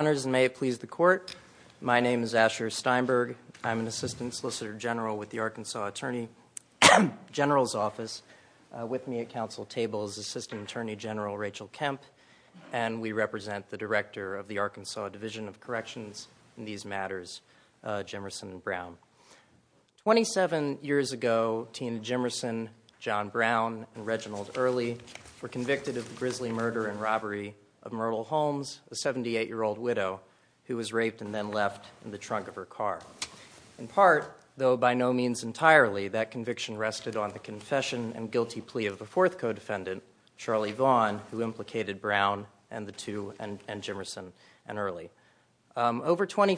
May it please the court. My name is Asher Steinberg. I'm an Assistant Solicitor General with the Arkansas Attorney General's Office. With me at council table is Assistant Attorney General Rachel Kemp, and we represent the Director of the Arkansas Division of Corrections in these matters, Jimerson and Brown. Twenty-seven years ago, Tina Jimerson, John Brown, and Reginald Early were convicted of rape and then left in the trunk of her car. In part, though by no means entirely, that conviction rested on the confession and guilty plea of the fourth co-defendant, Charlie Vaughn, who implicated Brown and the two, and Jimerson and Early. Over twenty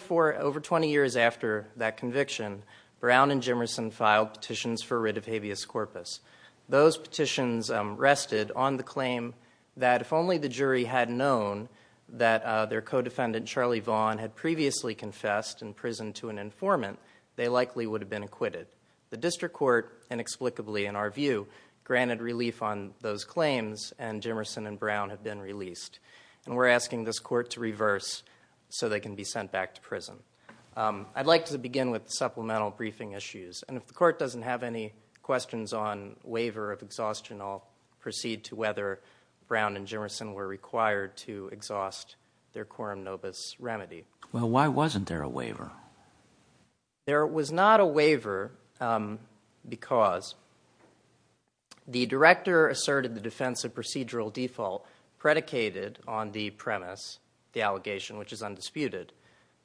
years after that conviction, Brown and Jimerson filed petitions for writ of habeas corpus. Those petitions rested on the claim that if only the jury had known that their co-defendant, Charlie Vaughn, had previously confessed in prison to an informant, they likely would have been acquitted. The district court inexplicably, in our view, granted relief on those claims, and Jimerson and Brown have been released. We're asking this court to reverse so they can be sent back to prison. I'd like to begin with supplemental briefing issues. If the court doesn't have any questions on waiver of exhaustion, I'll proceed to whether Brown and Jimerson were required to exhaust their quorum nobis remedy. Well, why wasn't there a waiver? There was not a waiver because the director asserted the defense of procedural default predicated on the premise, the allegation, which is undisputed,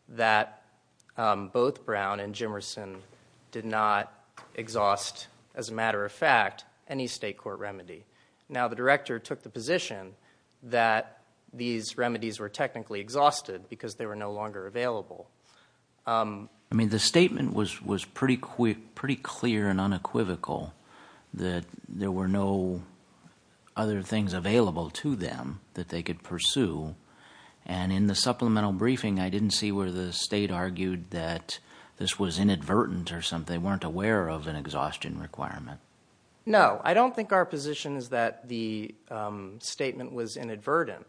that both Brown and Jimerson did not exhaust, as a matter of fact, any state court remedy. Now, the director took the position that these remedies were technically exhausted because they were no longer available. The statement was pretty clear and unequivocal, that there were no other things available to them that they could pursue. In the supplemental briefing, I didn't see where the state argued that this was inadvertent or something. They weren't aware of an exhaustion requirement. No, I don't think our position is that the statement was inadvertent,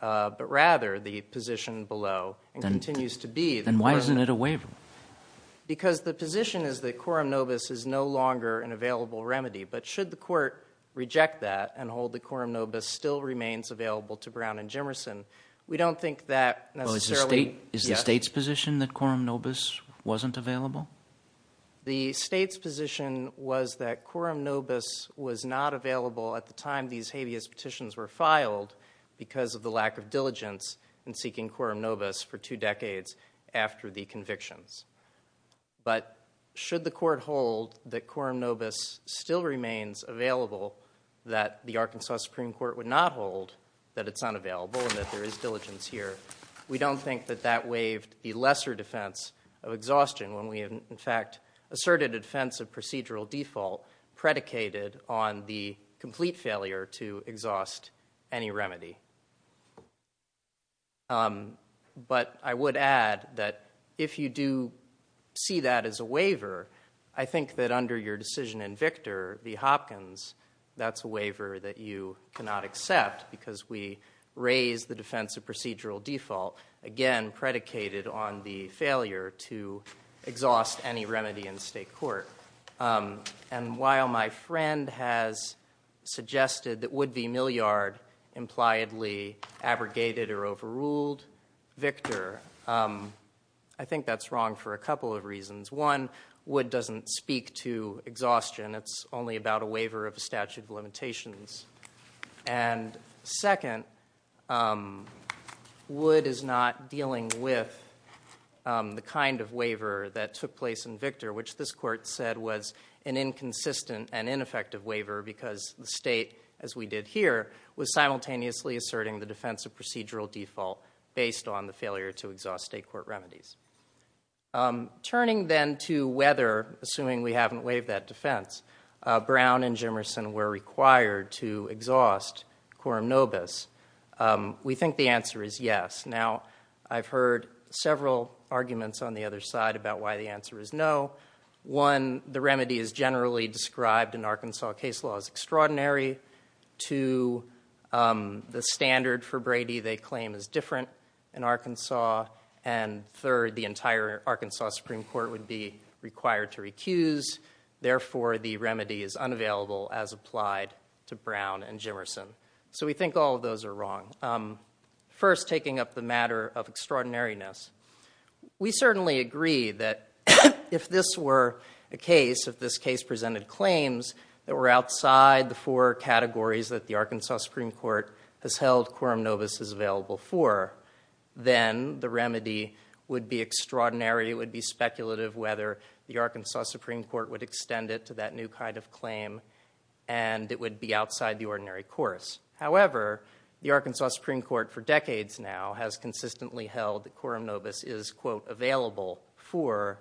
but rather the position below and continues to be. Then why isn't it a waiver? Because the position is that quorum nobis is no longer an available remedy, but should the court reject that and hold that quorum nobis still remains available to Brown and Jimerson, we don't think that necessarily... Is the state's position that quorum nobis wasn't available? The state's position was that quorum nobis was not available at the time these habeas petitions were filed because of the lack of diligence in seeking quorum nobis for two decades after the convictions. But should the court hold that quorum nobis still remains available, that the Arkansas Supreme Court would not hold that it's unavailable and that there is diligence here, we don't think that that waived the lesser defense of exhaustion when we in fact asserted a defense of procedural default predicated on the complete failure to exhaust any remedy. But I would add that if you do see that as a waiver, I think that under your decision in Victor, the Hopkins, that's a waiver that you cannot accept because we raised the defense of procedural default, again, predicated on the failure to exhaust any remedy in the state court. And while my friend has suggested that Wood v. Milliard impliedly abrogated or overruled Victor, I think that's wrong for a couple of reasons. One, Wood doesn't speak to exhaustion, it's only about a waiver of the statute of limitations. And second, Wood is not dealing with the kind of waiver that took place in Victor, which this court said was an inconsistent and ineffective waiver because the state, as we did here, was simultaneously asserting the defense of procedural default based on the failure to exhaust state court remedies. Turning then to whether, assuming we haven't waived that defense, Brown and Jimerson were required to exhaust Coram Nobis, we think the answer is yes. Now, I've heard several arguments on the other side about why the answer is no. One, the remedy is generally described in Arkansas case law as extraordinary. Two, the standard for Brady they claim is different in Arkansas. And third, the entire Arkansas Supreme Court would be required to Brown and Jimerson. So we think all of those are wrong. First taking up the matter of extraordinariness, we certainly agree that if this were the case, if this case presented claims that were outside the four categories that the Arkansas Supreme Court has held Coram Nobis is available for, then the remedy would be extraordinary, it would be speculative whether the Arkansas Supreme Court would extend it to that new kind of claim, and it would be outside the ordinary course. However, the Arkansas Supreme Court for decades now has consistently held that Coram Nobis is, quote, available for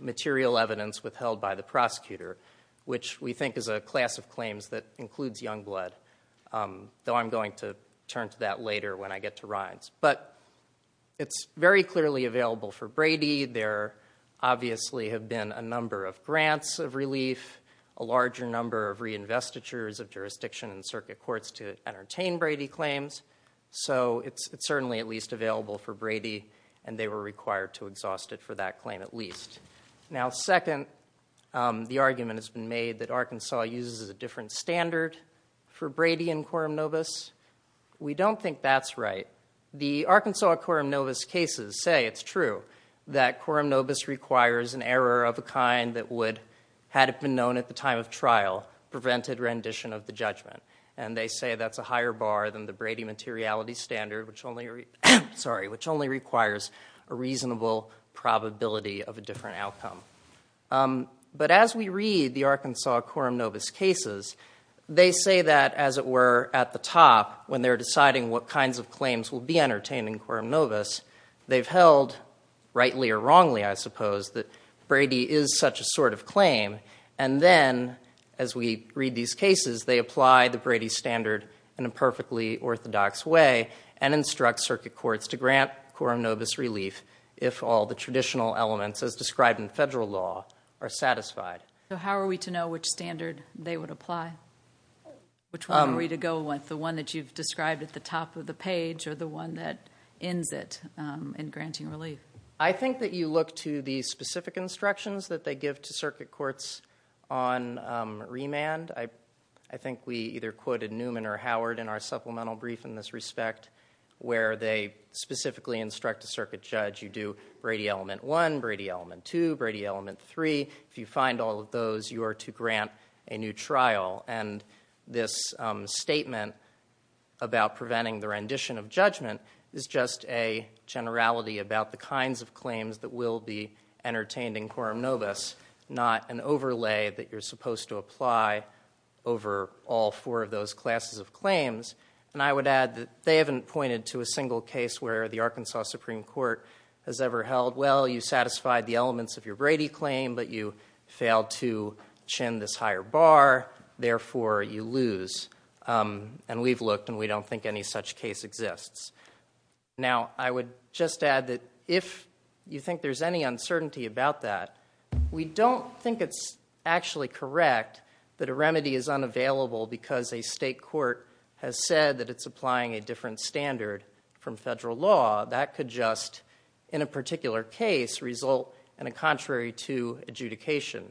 material evidence withheld by the prosecutor, which we think is a class of claims that includes young blood, though I'm going to turn to that later when I get to Rhines. But it's very clearly available for Brady. There obviously have been a number of grants of relief, a larger number of reinvestitures of jurisdiction and circuit courts to entertain Brady claims, so it's certainly at least available for Brady, and they were required to exhaust it for that claim at least. Now, second, the argument has been made that Arkansas uses a different standard for Brady and Coram Nobis. We don't think that's right. The Arkansas Coram Nobis cases say it's true that Coram Nobis requires an error of a kind that would, had it been known at the time of trial, prevent a rendition of the judgment, and they say that's a higher bar than the Brady materiality standard, which only requires a reasonable probability of a different outcome. But as we read the Arkansas Coram Nobis cases, they say that, as it were, at the top, when they're deciding what kinds of claims will be entertained in Coram Nobis, they've held, rightly or wrongly, I suppose, that Brady is such a sort of claim, and then, as we read these cases, they apply the Brady standard in a perfectly orthodox way and instruct circuit courts to grant Coram Nobis relief if all the traditional elements as described in federal law are satisfied. So how are we to know which standard they would apply? Which one are we to go with, the one that you've described at the top of the page or the one that ends it in granting the instructions that they give to circuit courts on remand? I think we either quoted Newman or Howard in our supplemental brief in this respect, where they specifically instruct a circuit judge, you do Brady element one, Brady element two, Brady element three. If you find all of those, you are to grant a new trial. And this statement about preventing the rendition of judgment is just a generality about the kinds of claims that will be entertained in Coram Nobis, not an overlay that you're supposed to apply over all four of those classes of claims. And I would add that they haven't pointed to a single case where the Arkansas Supreme Court has ever held, well, you satisfied the elements of your Brady claim, but you failed to chin this higher bar, therefore you lose. And we've looked, and we don't think any such case exists. Now, I would just add that if you think there's any uncertainty about that, we don't think it's actually correct that a remedy is unavailable because a state court has said that it's applying a different standard from federal law. That could just, in a particular case, result in a contrary to adjudication,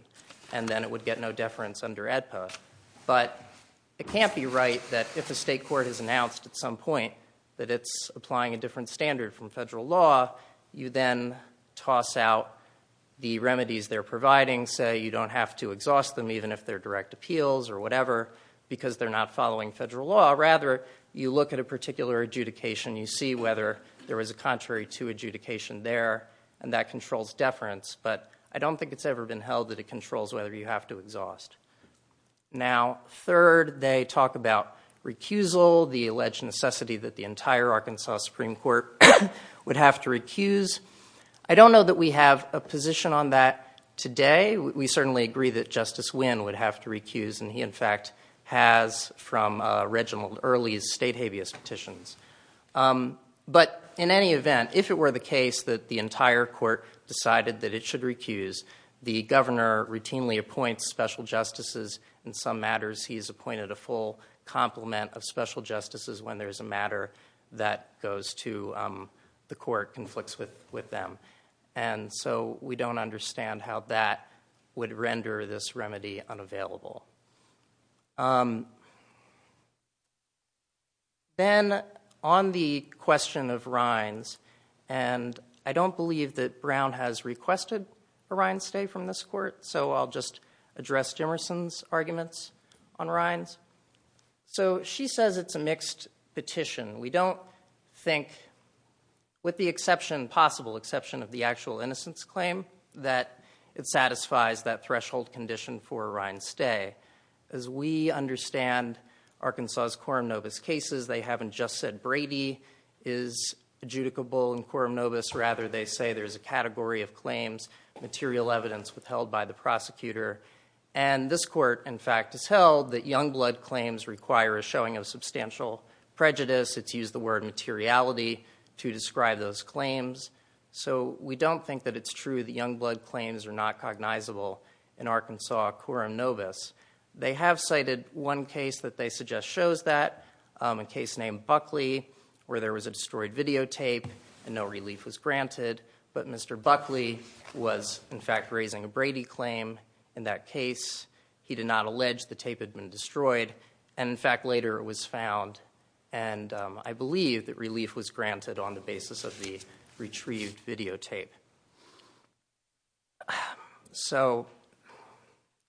and then it would get no deference under AEDPA. But it can't be right that if a state court has announced at some point that it's applying a different standard from federal law, you then toss out the remedies they're providing, say you don't have to exhaust them even if they're direct appeals or whatever, because they're not following federal law. Rather, you look at a particular adjudication, you see whether there was a contrary to adjudication there, and that controls deference. But I don't think it's ever been held that it controls whether you have to exhaust. Now, third, they talk about recusal, the alleged necessity that the entire Arkansas Supreme Court would have to recuse. I don't know that we have a position on that today. We certainly agree that Justice Wynn would have to recuse, and he in fact has from original early state habeas petitions. But in any event, if it were the case that the entire court decided that it should recuse, the governor routinely appoints special justices in some matters. He's appointed a full complement of special justices when there's a matter that goes to the court conflicts with them. And so we don't understand how that would render this remedy unavailable. Then, on the question of Rines, and I don't believe that Brown has requested a Rines stay from this court, so I'll just address Jimerson's arguments on Rines. So she says it's a mixed petition. We don't think, with the possible exception of the actual innocence claim, that it satisfies that threshold condition for a Rines stay. As we understand Arkansas' Quorum Novus cases, they haven't just said Brady is adjudicable in Quorum Novus. Rather, they say there's a category of claims, material evidence withheld by the prosecutor. And this court in fact has held that young blood claims require a showing of substantial prejudice. It's used the word materiality to describe those claims. So we don't think that it's true that young blood claims are not cognizable in Arkansas' Quorum Novus. They have cited one case that they suggest shows that, a case named Buckley, where there was a destroyed videotape and no relief was granted. But Mr. Buckley was in fact raising a Brady claim in that case. He did not allege the tape had been destroyed. And in fact, later it was found and I believe that relief was granted on the basis of the retrieved videotape. So,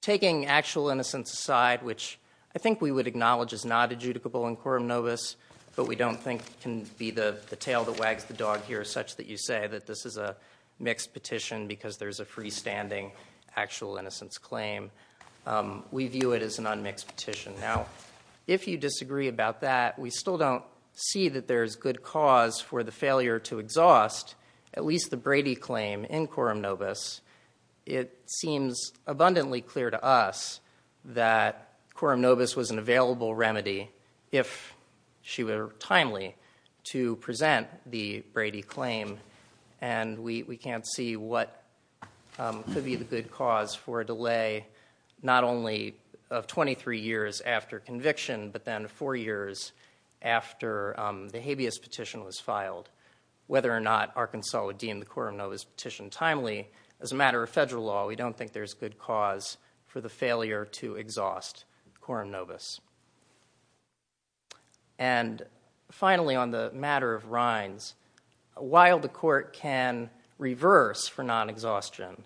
taking actual innocence aside, which I think we would acknowledge is not adjudicable in Quorum Novus, but we don't think can be the tail that wags the dog here such that you say that this is a mixed petition because there's a freestanding actual innocence claim. We view it as an unmixed petition. Now, if you disagree about that, we still don't see that there's good cause for the failure to exhaust at least the Brady claim in Quorum Novus. It seems abundantly clear to us that Quorum Novus was an available remedy if she were timely to present the Brady claim. And we can't see what could be the good cause for a delay, not only of 23 years after conviction, but then four years after conviction. After the habeas petition was filed, whether or not Arkansas would deem the Quorum Novus petition timely, as a matter of federal law, we don't think there's good cause for the failure to exhaust Quorum Novus. And finally, on the matter of rinds, while the court can reverse for non-exhaustion,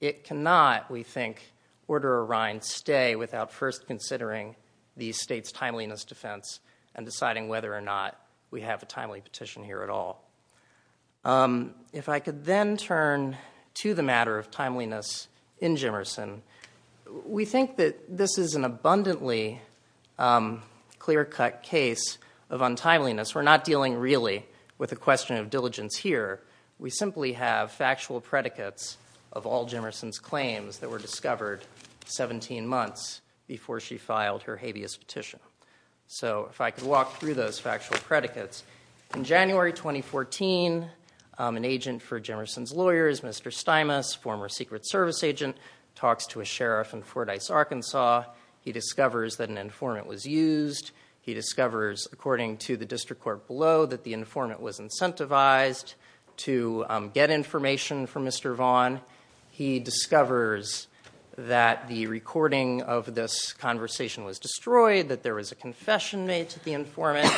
it cannot, we think, order a rind stay without first considering the state's timeliness defense and deciding whether or not we have a timely petition here at all. If I could then turn to the matter of timeliness in Jimerson, we think that this is an abundantly clear-cut case of untimeliness. We're not dealing, really, with a question of diligence here. We simply have factual predicates of all Jimerson's claims that were discovered 17 months before she filed her habeas petition. So if I could walk through those factual predicates. In January 2014, an agent for Jimerson's lawyers, Mr. Stimas, former Secret Service agent, talks to a sheriff in Fordyce, Arkansas. He discovers that an informant was used. He discovers, according to the district court below, that the informant was incentivized to get information from Mr. Vaughn. He discovers that the recording of this conversation was destroyed, that there was a confession made to the informant.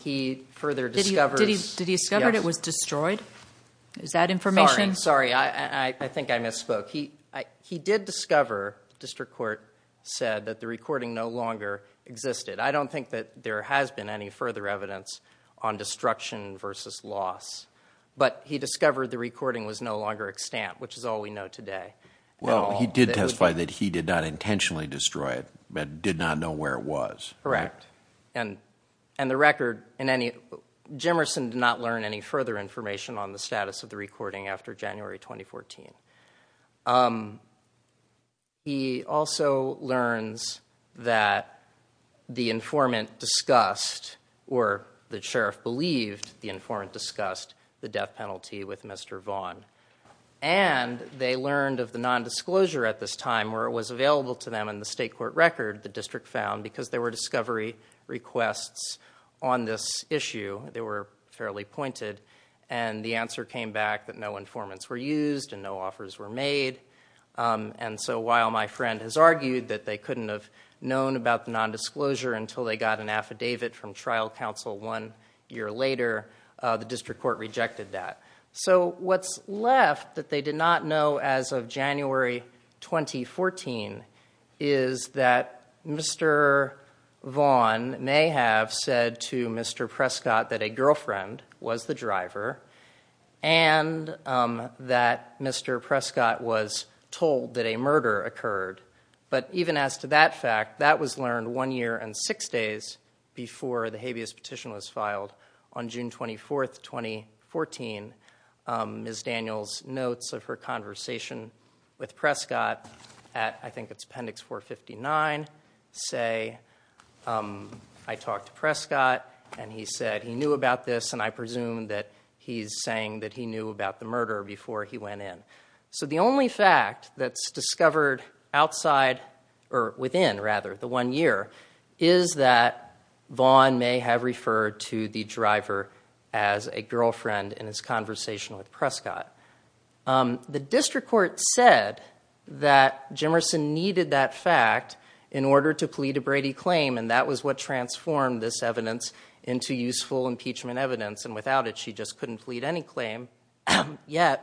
He further discovers... Did he discover it was destroyed? That information? Sorry, I think I misspoke. He did discover, the district court said, that the recording no longer existed. I don't think that there has been any further evidence on destruction versus loss. But he discovered the recording was no longer extant, which is all we know today. Well, he did testify that he did not intentionally destroy it, but did not know where it was. Correct. And the record, in any... Jimerson did not learn any further information on the status of the recording after January 2014. He also learns that the informant's lawyer discussed, or the sheriff believed the informant discussed, the death penalty with Mr. Vaughn. And they learned of the nondisclosure at this time, where it was available to them in the state court record, the district found, because there were discovery requests on this issue. They were fairly pointed. And the answer came back that no informants were used and no offers were made. And so while my friend has argued that they couldn't have known about the nondisclosure until they got an affidavit from trial counsel one year later, the district court rejected that. So what's left that they did not know as of January 2014 is that Mr. Vaughn may have said to Mr. Prescott that a girlfriend was the driver, and that Mr. Prescott was told that a murder occurred. But even as to that fact, that was learned one year and six days before the habeas petition was filed on June 24th, 2014. Ms. Daniels notes of her conversation with Prescott at, I think it's Appendix 459, say, I talked to Prescott and he said he knew about this and I presume that he's saying that he knew about the murder before he went in. So the only fact that's discovered outside or within, rather, the one year is that Vaughn may have referred to the driver as a girlfriend in his conversation with Prescott. The district court said that Jimerson needed that fact in order to plead a Brady claim and that was what transformed this evidence into useful impeachment evidence. And without it, she just couldn't plead any claim. Yet,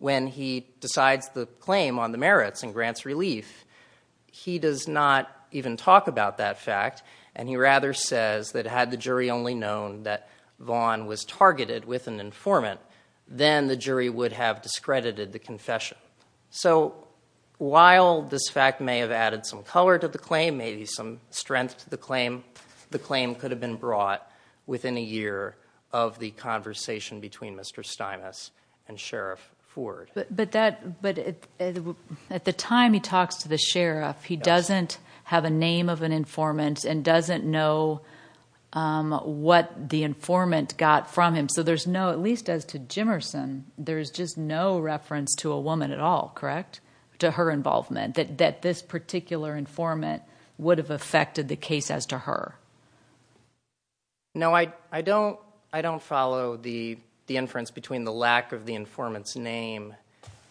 when he decides the claim on the merits and grants relief, he does not even talk about that fact and he rather says that had the jury only known that Vaughn was targeted with an informant, then the jury would have discredited the confession. So while this fact may have added some color to the claim, maybe some strength to the claim, the claim could have been brought within a year of the conversation between Mr. Stinis and Sheriff Ford. But at the time he talks to the sheriff, he doesn't have a name of an informant and doesn't know what the informant got from him. So there's no, at least as to Jimerson, there's just no reference to a woman at all, correct? To her involvement, that this particular informant would have affected the case as to her. No, I don't follow the inference between the lack of the informant's name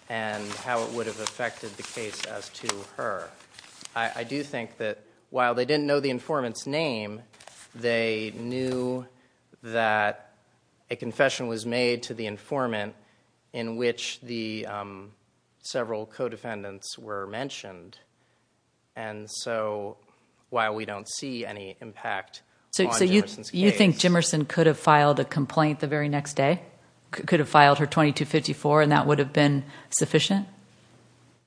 and how it would have affected the case as to her. I do think that while they didn't know the informant's name, they knew that a confession was made to the informant in which the several co-defendants were mentioned. And so while we don't see any impact on Jimerson's case. You think Jimerson could have filed a complaint the very next day? Could have filed her 2254 and that would have been sufficient?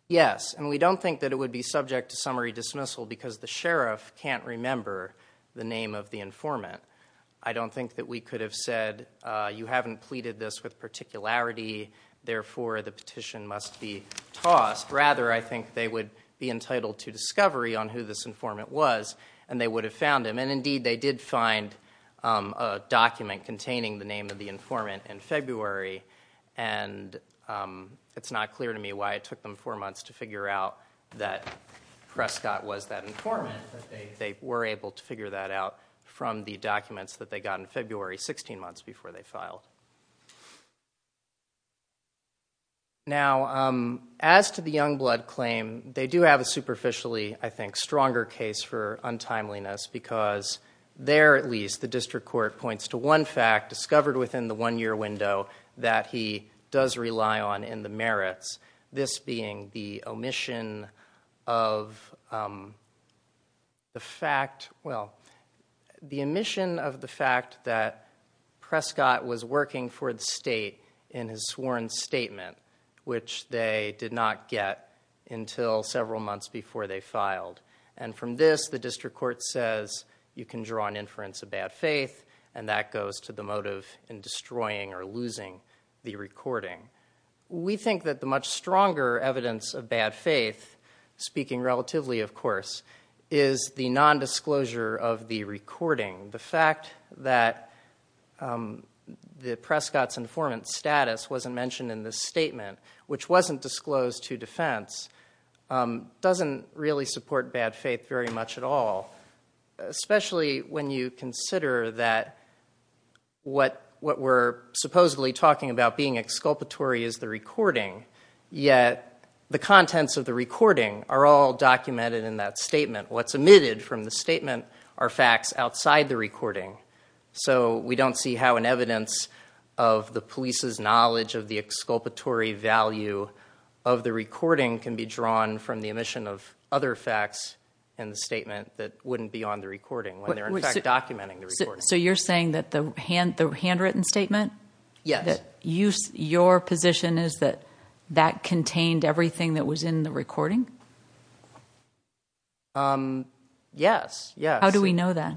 Yes, and we don't think that it would be subject to summary dismissal because the sheriff can't remember the name of the informant. I don't think that we could have said, you haven't completed this with particularity, therefore the petition must be tossed. Rather, I think they would be entitled to discovery on who this informant was and they would have found him. And indeed, they did find a document containing the name of the informant in February and it's not clear to me why it took them four months to figure out that Prescott was that informant. They were able to figure that out from the documents that they got in February, 16 months before they filed. Now, as to the Youngblood claim, they do have a superficially, I think, stronger case for untimeliness because there at least the district court points to one fact discovered within the one-year window that he does rely on in the merits. This being the omission of the fact that Prescott was working for the state in his sworn statement, which they did not get until several months before they filed. And from this, the district court says you can draw an inference of bad faith and that goes to the motive in destroying or losing the recording. We think that the much stronger evidence of bad faith, speaking relatively, of course, is the nondisclosure of the recording. The fact that Prescott's informant status wasn't mentioned in the statement, which wasn't disclosed to defense, doesn't really support bad faith very much at all, especially when you consider that what we're supposedly talking about being exculpatory is the recording, yet the contents of the recording are all documented in that statement. What's omitted from the statement are facts outside the recording. So we don't see how an evidence of the police's knowledge of the exculpatory value of the recording can be drawn from the omission of other facts in the statement that wouldn't be on the recording when they're in fact documenting the recording. So you're saying that the handwritten statement? Yes. Your position is that that contained everything that was in the recording? Yes. How do we know that?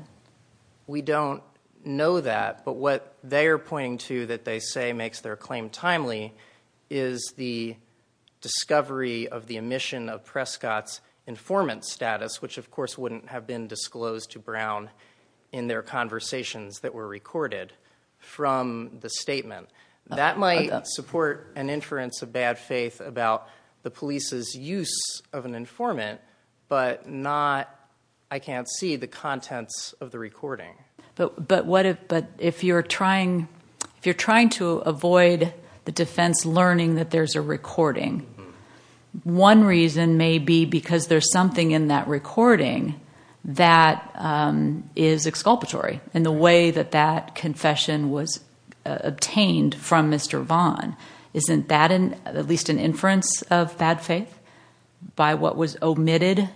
We don't know that, but what they are pointing to that they say makes their claim timely is the discovery of the omission of Prescott's informant status, which of course wouldn't have been disclosed to Brown in their conversations that were recorded from the statement. That might support an inference of bad faith about the police's use of an informant, but I can't see the contents of the recording. But if you're trying to avoid the defense learning that there's a recording, one reason may be because there's something in that recording that is exculpatory in the way that that confession was obtained from Mr. Vaughn. Isn't that at least an inference of bad faith by what was omitted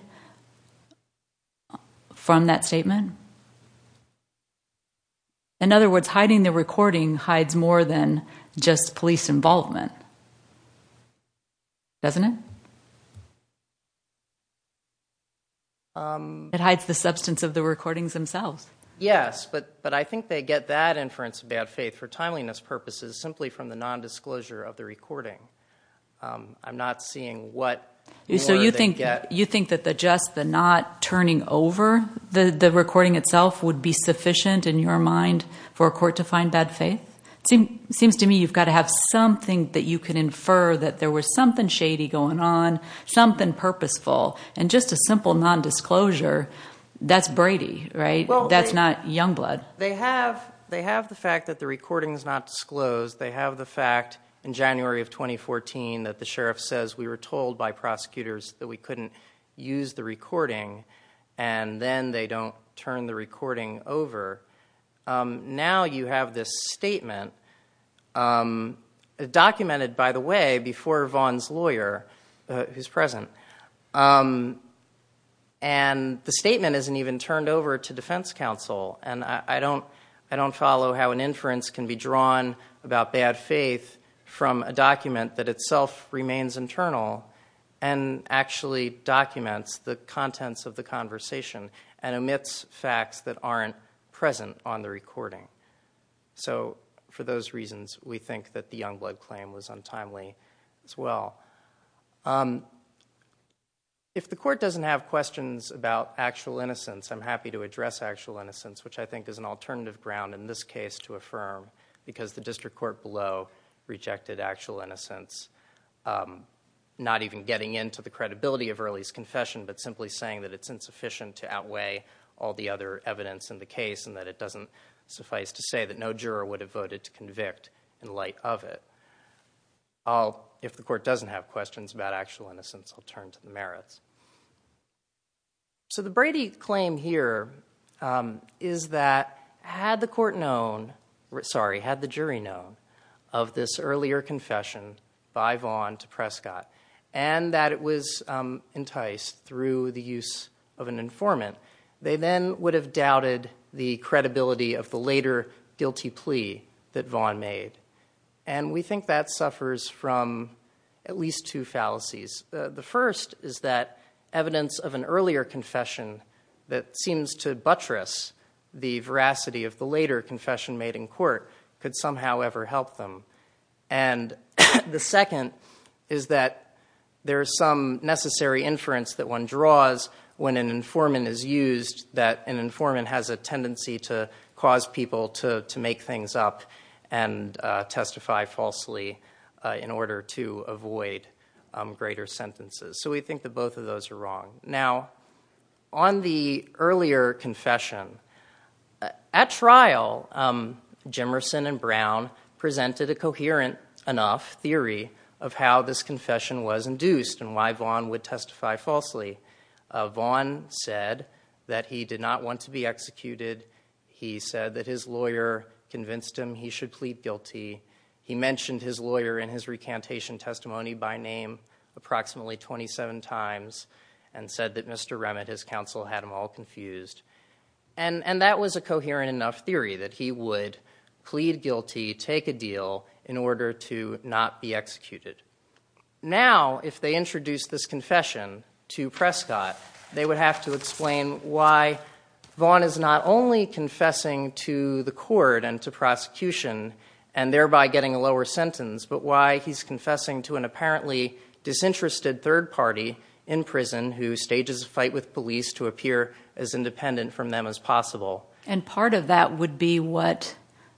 from that statement? In other words, hiding the recording hides more than just police involvement. It hides the substance of the recordings themselves. Yes, but I think they get that inference of bad faith for timeliness purposes simply from the nondisclosure of the recording. I'm not seeing what more they get. You think that the just, the not, turning over the recording itself would be sufficient in your mind for a court to find bad faith? It seems to me you've got to have something that you can infer that there was something shady going on, something purposeful, and just a simple nondisclosure, that's Brady, right? That's not Youngblood. They have the fact that the recording is not disclosed. They have the fact in January of 2014 that the sheriff says we were told by prosecutors that we couldn't use the recording, and then they don't turn the recording over. Now you have this statement, documented by the way, before Vaughn's lawyer, who's present, and the statement isn't even turned over to defense counsel. I don't follow how an inference can be drawn about bad faith from a document that itself remains internal and actually documents the contents of the conversation and omits facts that aren't present on the recording. So for those reasons, we think that the Youngblood claim was untimely as well. If the court doesn't have questions about actual innocence, I'm happy to address actual innocence, which I think is an alternative ground in this case to affirm, because the district court below rejected actual innocence, not even getting into the credibility of Early's confession, but simply saying that it's insufficient to outweigh all the other evidence in the case to say that no juror would have voted to convict in light of it. If the court doesn't have questions about actual innocence, I'll turn to Merritt. So the Brady claim here is that had the jury known of this earlier confession by Vaughn to Prescott, and that it was enticed through the use of an informant, they then would have lost credibility of the later guilty plea that Vaughn made. And we think that suffers from at least two fallacies. The first is that evidence of an earlier confession that seems to buttress the veracity of the later confession made in court could somehow ever help them. And the second is that there's some necessary inference that one draws when an informant is used, that an informant has a tendency to cause people to make things up and testify falsely in order to avoid greater sentences. So we think that both of those are wrong. Now, on the earlier confession, at trial, Jimerson and Brown presented a coherent enough theory. Jimerson said that he did not want to be executed. He said that his lawyer convinced him he should plead guilty. He mentioned his lawyer in his recantation testimony by name approximately 27 times and said that Mr. Remit, his counsel, had him all confused. And that was a coherent enough theory that he would plead guilty, take a deal, in order to not be executed. Now, if they introduced this confession to Prescott, they would have to explain why Vaughn is not only confessing to the court and to prosecution and thereby getting a lower sentence, but why he's confessing to an apparently disinterested third party in prison who stages a fight with police to appear as independent from them as possible. And part of that would be what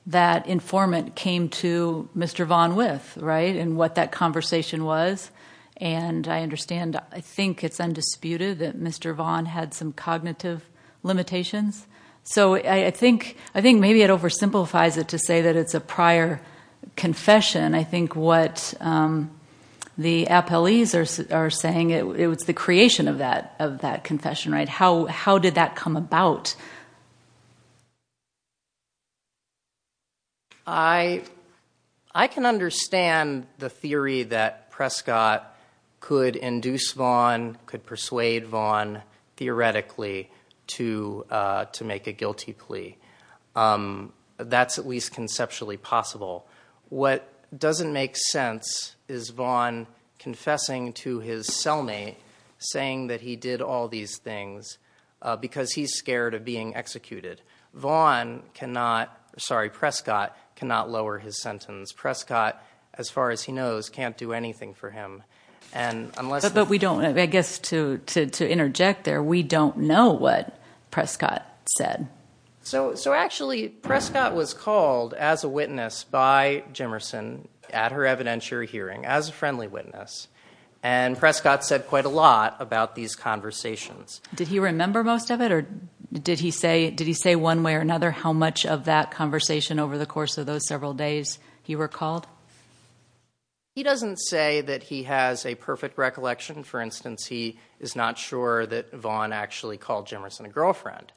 that informant came to Mr. Vaughn with, right, and what that conversation was. And I understand, I think it's undisputed that Mr. Vaughn had some cognitive limitations. So I think maybe it oversimplifies it to say that it's a prior confession. I think what the appellees are saying, it was the creation of that confession, right? How did that come about? I can understand the theory that Prescott could induce Vaughn, could persuade Vaughn theoretically to make a guilty plea. That's at least conceptually possible. What doesn't make sense is Vaughn confessing to his cellmate, saying that he did all these things, and then because he's scared of being executed. Prescott cannot lower his sentence. Prescott, as far as he knows, can't do anything for him. But I guess to interject there, we don't know what Prescott said. So actually Prescott was called as a witness by Jimerson at her evidentiary hearing, as a friendly witness. And Prescott said quite a lot about these conversations. Did he remember most of it? Or did he say one way or another how much of that conversation over the course of those several days he recalled? He doesn't say that he has a perfect recollection. For instance, he is not sure that Vaughn actually called Jimerson a girlfriend.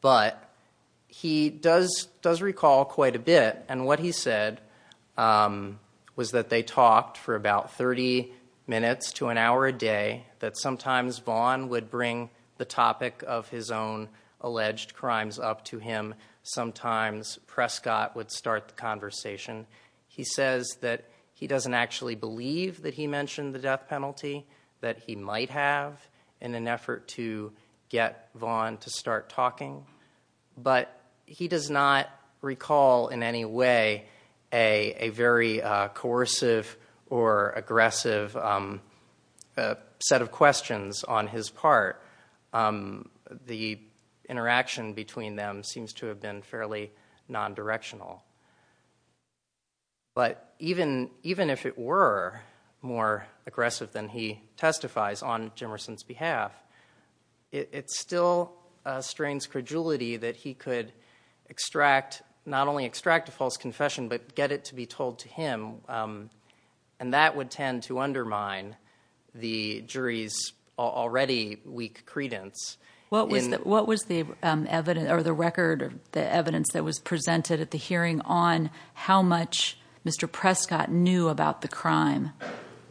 But he does recall quite a bit. And what he said was that they talked for about 30 minutes to an hour a day, that sometimes Vaughn would bring the topic of his own alleged crimes up to him. Sometimes Prescott would start the conversation. He says that he doesn't actually believe that he mentioned the death penalty that he might have in an effort to get Vaughn to start talking. But he does not recall in any way a very coercive or aggressive set of questions on his part. The interaction between them seems to have been fairly non-directional. But even if it were more aggressive than he testifies on Jimerson's behalf, it still strains credulity that he could extract, not only extract a testimony, but extract evidence. And that would tend to undermine the jury's already weak credence. What was the record or the evidence that was presented at the hearing on how much Mr. Prescott knew about the crime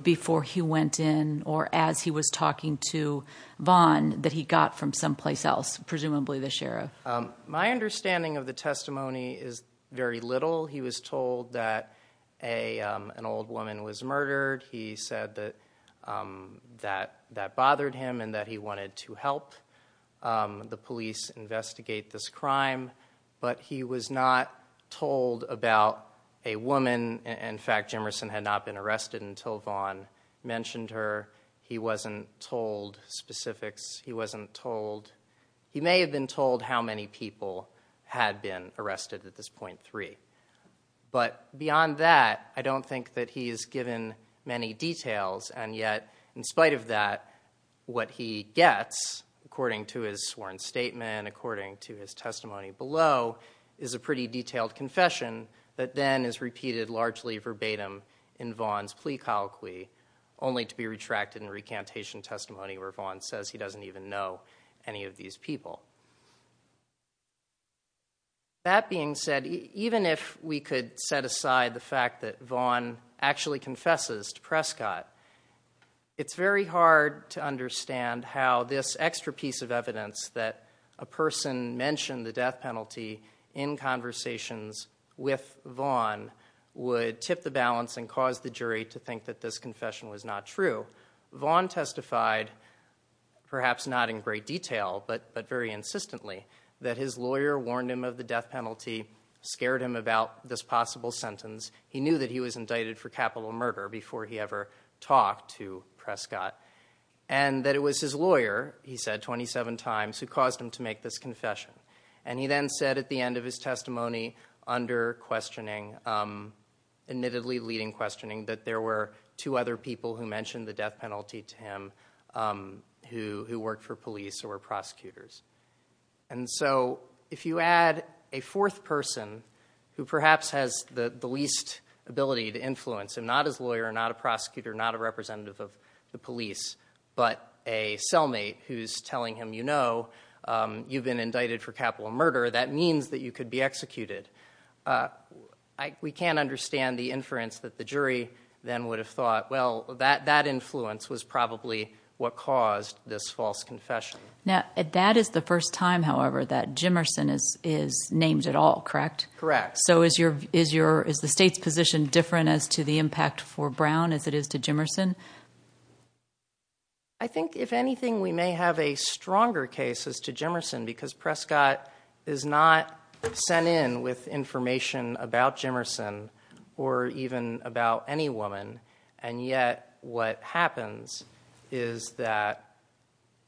before he went in or as he was talking to Vaughn that he got from someplace else, presumably the sheriff? My understanding of the testimony is very little. He was told that an old woman was murdered. He said that that bothered him and that he wanted to help the police investigate this crime. But he was not told about a woman. In fact, Jimerson had not been arrested until Vaughn mentioned her. He wasn't told specifics. He wasn't told. He may have been told how many people had been arrested at this point, three. But beyond that, I don't think that he is given many details. And yet in spite of that, what he gets according to his sworn statement, according to his testimony below is a pretty detailed confession that then is repeated largely verbatim in Vaughn's plea colloquy only to be retracted in recantation testimony where Vaughn says he doesn't even know any of these people. That being said, even if we could set aside the fact that Vaughn actually confesses to Prescott, it's very hard to understand how this extra piece of evidence that a person mentioned the death penalty in conversations with Vaughn would tip the balance and cause the jury to think that this confession was not true. Vaughn testified, perhaps not in great detail, but very insistently, that his lawyer warned him of the death penalty, scared him about this possible sentence. He knew that he was indicted for capital murder before he ever talked to Prescott. And that it was his lawyer, he said 27 times, who caused him to make this confession. And he then said at the end of his testimony under questioning, admittedly leading questioning, that there were two other people who mentioned the death penalty to him who worked for police or prosecutors. And so if you add a fourth person who perhaps has the least ability to influence, and not his lawyer, not a prosecutor, not a representative of the police, but a cellmate who's telling him, you know, you've been indicted for capital murder, that means that you could be executed. We can't understand the inference that the jury then would have thought, well, that influence was probably what caused this false confession. Now, that is the first time, however, that Jimerson is named at all, correct? Correct. So is the state's position different as to the impact for Brown as it is to Jimerson? I think, if anything, we may have a stronger case as to Jimerson, because Prescott is not sent in with information about Jimerson or even about any woman, and yet what happens is that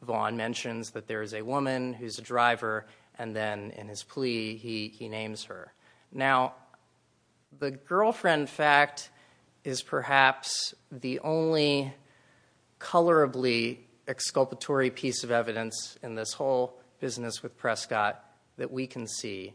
Vaughn mentions that there's a woman who's a driver, and then in his plea, he names her. Now, the girlfriend fact is perhaps the only colorably exculpatory piece of evidence in this whole business with Prescott that we can see,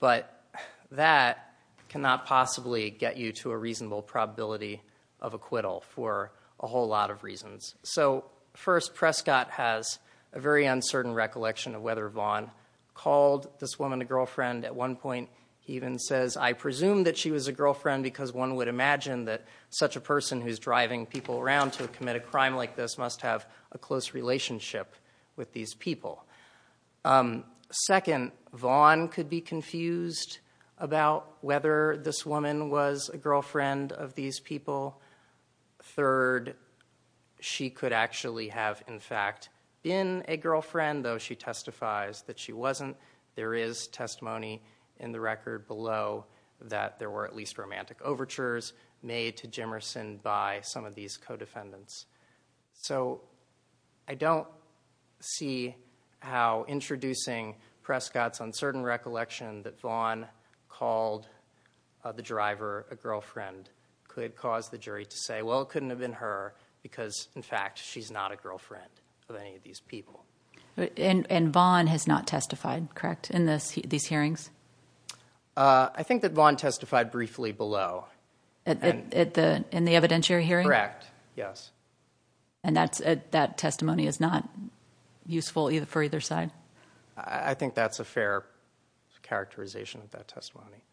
but that cannot possibly get you to a reasonable probability of acquittal for a whole lot of reasons. So first, Prescott has a very uncertain recollection of whether Vaughn called this woman a girlfriend. At one point, he even says, I presume that she was a girlfriend because one would imagine that such a person who's driving people around to commit a crime like this must have a close relationship with these people. Second, Vaughn could be confused about whether this woman was a girlfriend of these people. Third, she could actually have, in fact, been a girlfriend, though she testifies that she wasn't. There is testimony in the record below that there were at least romantic overtures made to Jimerson by some of these co-defendants. So I don't see how introducing Prescott's uncertain recollection that Vaughn called the driver a girlfriend could cause the jury to say, well, it couldn't have been her because, in fact, she's not a girlfriend of any of these people. And Vaughn has not testified, correct, in these hearings? I think that Vaughn testified briefly below. In the evidentiary hearing? Correct, yes. And that testimony is not useful for either side? I think that's a fair characterization of that testimony.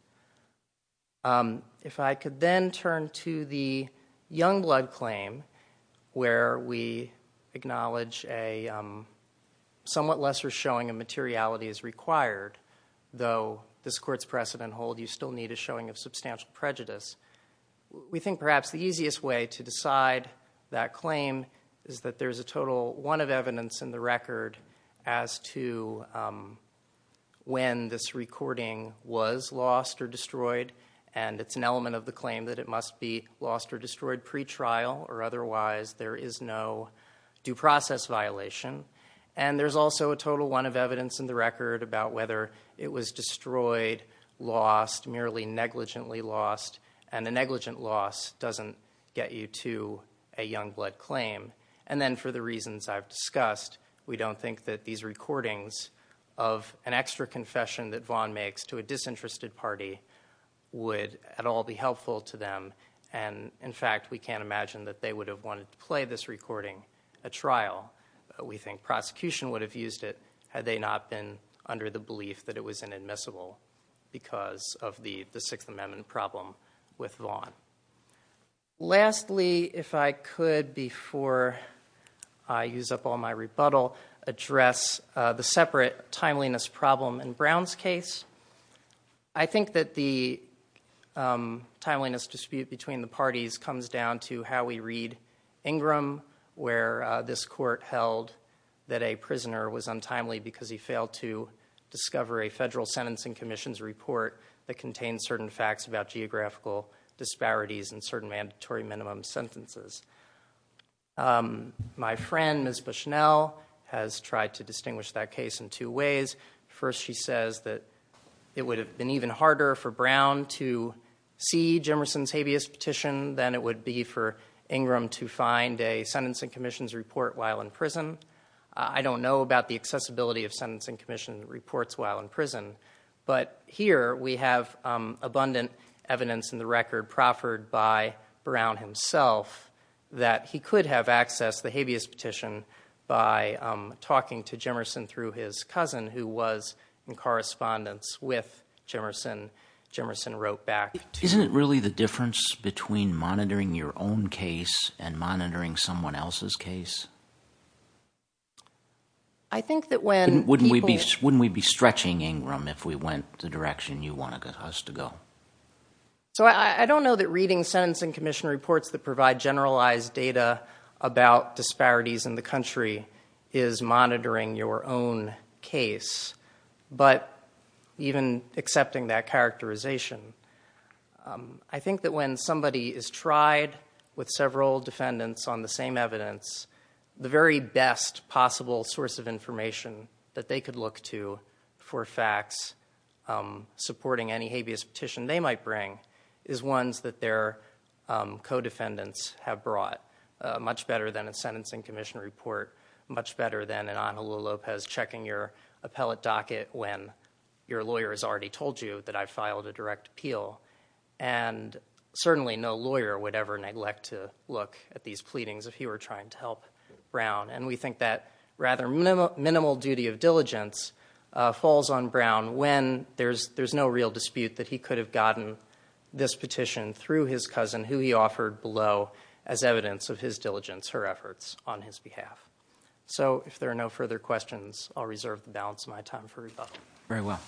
If I could then turn to the Youngblood claim where we acknowledge a somewhat lesser showing of materiality is required, though this court's precedent holds you still need a showing of materiality, we think perhaps the easiest way to decide that claim is that there's a total one of evidence in the record as to when this recording was lost or destroyed, and it's an element of the claim that it must be lost or destroyed pretrial, or otherwise there is no due process violation. And there's also a total one of evidence in the record about whether it was destroyed, lost, merely negligently lost, and the negligent loss doesn't get you to a Youngblood claim. And then for the reasons I've discussed, we don't think that these recordings of an extra confession that Vaughn makes to a disinterested party would at all be helpful to them. And, in fact, we can't imagine that they would have wanted to play this recording at trial. We think prosecution would have used it had they not been under the belief that it was inadmissible because of the Sixth Amendment problem with Vaughn. Lastly, if I could before I use up all my rebuttal, address the separate timeliness problem in Brown's case. I think that the timeliness dispute between the parties comes down to how we read Ingram, where this court held that a prisoner was untimely because he failed to discover a federal sentencing commission's report that contained certain facts about geographical disparities in certain mandatory minimum sentences. My friend, Ms. Bushnell, has tried to distinguish that case in two ways. First, she says that it would have been even harder for Brown to see Jimmerson's habeas petition than it would be for Ingram to find a sentencing commission's report while in prison. I don't know about the accessibility of sentencing commission reports while in prison, but here we have abundant evidence in the record proffered by Brown himself that he could have accessed the habeas petition by talking to Jimmerson through his cousin, who was in correspondence with Jimmerson. Jimmerson wrote back. Isn't it really the difference between monitoring your own case and monitoring someone else's case? I think that when... Wouldn't we be stretching Ingram if we went the direction you wanted us to go? So I don't know that reading sentencing commission reports that provide generalized data about disparities in the country is monitoring your own case, but even accepting that characterization, I think that when somebody is tried with several defendants on the same evidence, the very best possible source of information that they could look to for facts supporting any habeas petition they might bring is ones that their co-defendants have brought, much better than a sentencing commission report, much better than an Ana Lua Lopez checking your appellate docket when your lawyer has already told you that I filed a direct appeal, and certainly no lawyer would ever neglect to look at these pleadings if he were trying to help Brown, and we think that rather minimal duty of diligence falls on Brown when there's no real dispute that he could have gotten this petition through his cousin, who he offered below as evidence of his diligence, her efforts on his behalf. So if there are no further questions, I'll reserve the balance of my time for rebuttal. Very well.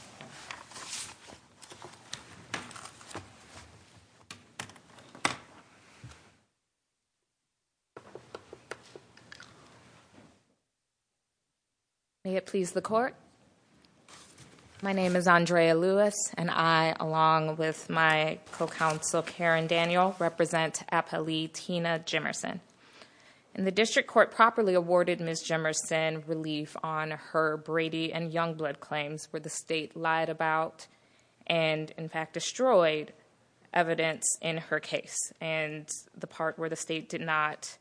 May it please the court. My name is Andrea Lewis, and I, along with my co-counsel Karen Daniel, represent appellee Tina Jemerson, and the district court properly awarded Ms. Jemerson relief on her Brady and Youngblood claims where the state lied about and, in fact, destroyed evidence in her case, and the part where the state did not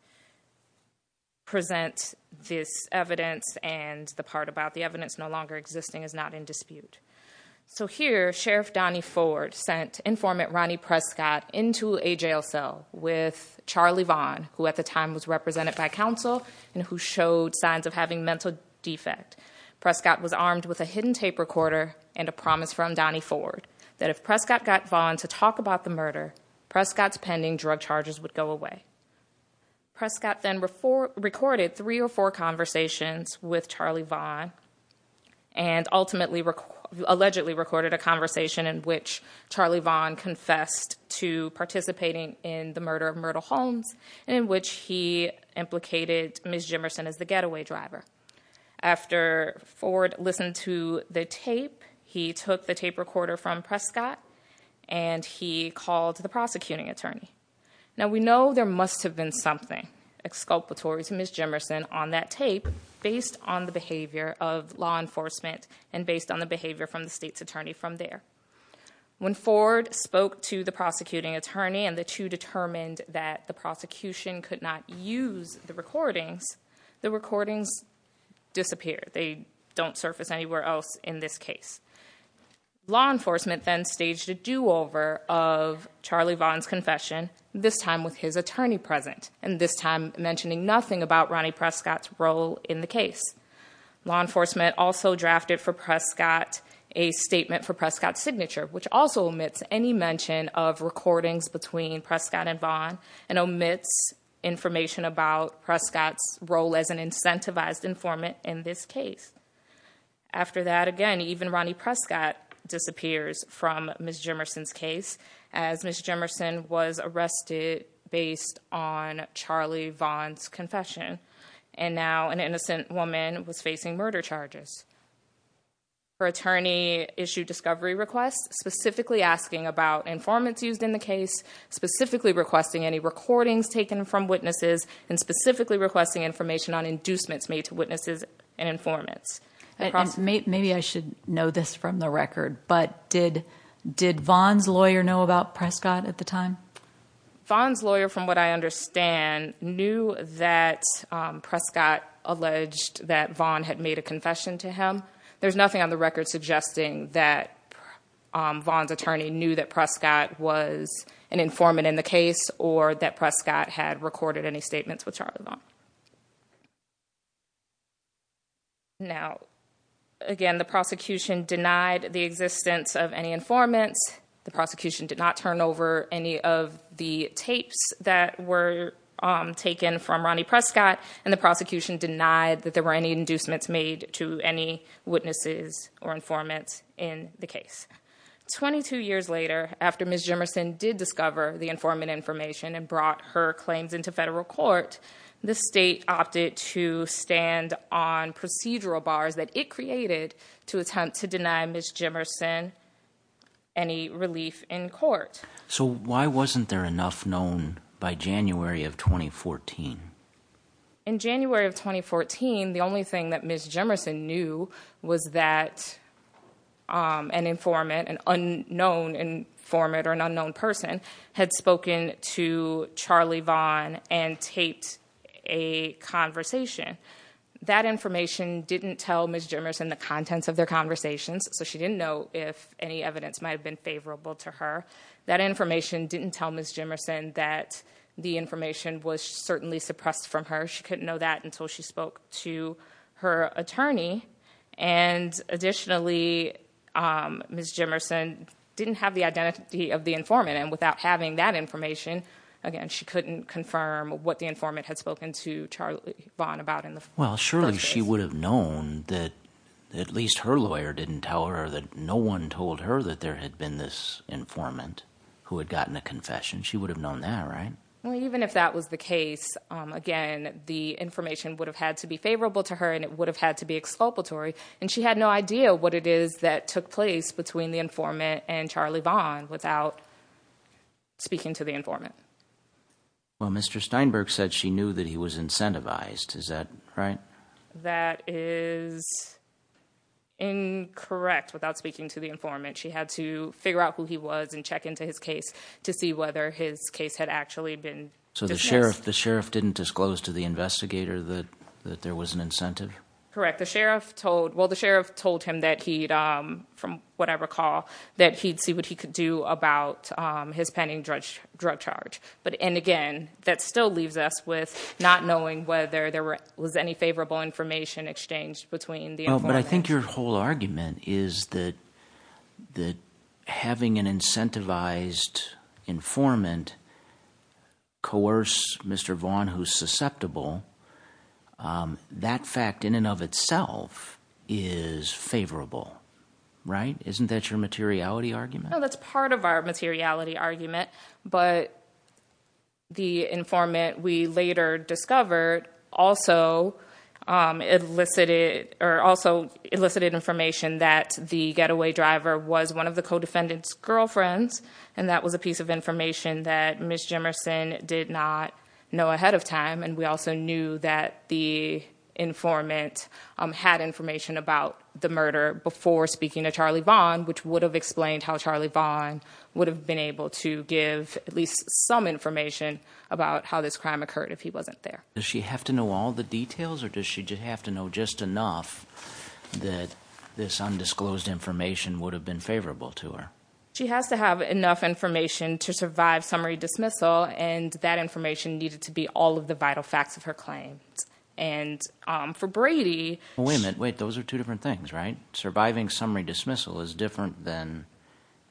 present this evidence and the part about the evidence So here, Sheriff Donnie Ford sent informant Ronnie Prescott into a jail cell with Charlie Vaughn, who at the time was represented by counsel and who showed signs of having mental defect. Prescott was armed with a hidden tape recorder and a promise from Donnie Ford that if Prescott got Vaughn to talk about the murder, Prescott's pending drug charges would go away. Prescott then recorded three or four conversations with Charlie Vaughn and ultimately, allegedly recorded a conversation in which Charlie Vaughn confessed to participating in the murder of Myrtle Holmes, in which he implicated Ms. Jemerson as the getaway driver. After Ford listened to the tape, he took the tape recorder from Prescott, and he called the prosecuting attorney. Now, we know there must have been something exculpatory to Ms. Jemerson on that tape based on the behavior of law enforcement and based on the behavior from the state's attorney from there. When Ford spoke to the prosecuting attorney and the two determined that the prosecution could not use the recording, the recording disappeared. They don't surface anywhere else in this case. Law enforcement then staged a do-over of Charlie Vaughn's confession, this time with his attorney present and this time mentioning nothing about Ronnie Prescott's role in the case. Law enforcement also drafted for Prescott a statement for Prescott's signature, which also omits any mention of recordings between Prescott and Vaughn and omits information about Prescott's role as an incentivized informant in this case. After that, again, even Ronnie Prescott disappears from Ms. Jemerson's case as Ms. Jemerson was arrested based on Charlie Vaughn's confession. And now an innocent woman was facing murder charges. Her attorney issued discovery requests specifically asking about informants used in the case, specifically requesting any recordings taken from witnesses, and specifically requesting information on inducements made to witnesses and informants. Maybe I should know this from the record, but did Vaughn's lawyer know about Prescott at the time? Vaughn's lawyer, from what I understand, knew that Prescott alleged that Vaughn had made a confession to him. There's nothing on the record suggesting that Vaughn's attorney knew that Prescott was an Now, again, the prosecution denied the existence of any informant. The prosecution did not turn over any of the tapes that were taken from Ronnie Prescott, and the prosecution denied that there were any inducements made to any witnesses or informants in the case. Twenty-two years later, after Ms. Jemerson did discover the informant information and the state opted to stand on procedural bars that it created to attempt to deny Ms. Jemerson any relief in court. So why wasn't there enough known by January of 2014? In January of 2014, the only thing that Ms. Jemerson knew was that an informant, an unknown informant or an unknown person, had spoken to Charlie Vaughn and taped a conversation. That information didn't tell Ms. Jemerson the contents of their conversations, so she didn't know if any evidence might have been favorable to her. That information didn't tell Ms. Jemerson that the information was certainly suppressed from her. She couldn't know that until she spoke to her attorney, and additionally, Ms. Jemerson didn't have the identity of the informant, and without having that information, again, she couldn't confirm what the informant had spoken to Charlie Vaughn about in the first place. Well, surely she would have known that at least her lawyer didn't tell her that no one told her that there had been this informant who had gotten the confession. She would have known that, right? Even if that was the case, again, the information would have had to be favorable to her and it would have had to be expulsory, and she had no idea what it is that took place between the informant and Charlie Vaughn without speaking to the informant. Well, Mr. Steinberg said she knew that he was incentivized, is that right? That is incorrect, without speaking to the informant. She had to figure out who he was and check into his case to see whether his case had actually been... So the sheriff didn't disclose to the investigator that there was an incentive? Correct. Well, the sheriff told him that he'd, from what I recall, that he'd see what he could do about his pending drug charge, and again, that still leaves us with not knowing whether there was any favorable information exchanged between the informant. But I think your whole argument is that having an incentivized informant coerce Mr. Vaughn, who's susceptible, that fact in and of itself is favorable, right? Isn't that your materiality argument? No, that's part of our materiality argument, but the informant we later discovered also elicited information that the getaway driver was one of the co-defendant's girlfriends, and that was a piece of information that Ms. Jemerson did not know ahead of time, and we also knew that the informant had information about the murder before speaking to Charlie Vaughn, which would have explained how Charlie Vaughn would have been able to give at least some information about how this crime occurred if he wasn't there. Does she have to know all the details, or does she have to know just enough that this undisclosed information would have been favorable to her? She has to have enough information to survive summary dismissal, and that information needed to be all of the vital facts of her claim. And for Brady... Wait a minute, wait, those are two different things, right? Surviving summary dismissal is different than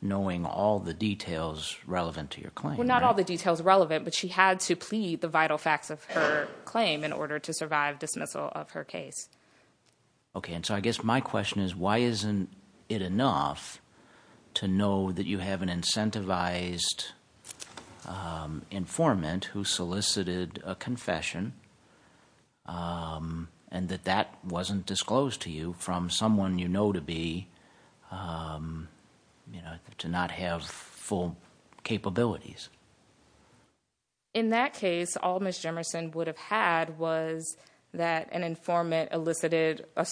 knowing all the details relevant to your claim, right? Well, not all the details relevant, but she had to plead the vital facts of her claim in order to survive dismissal of her case. Okay, and so I guess my question is, why isn't it enough to know that you have an incentivized informant who solicited a confession, and that that wasn't disclosed to you from someone you know to be, you know, to not have full capabilities? In that case, all Ms. Jemerson would have had was that an informant elicited a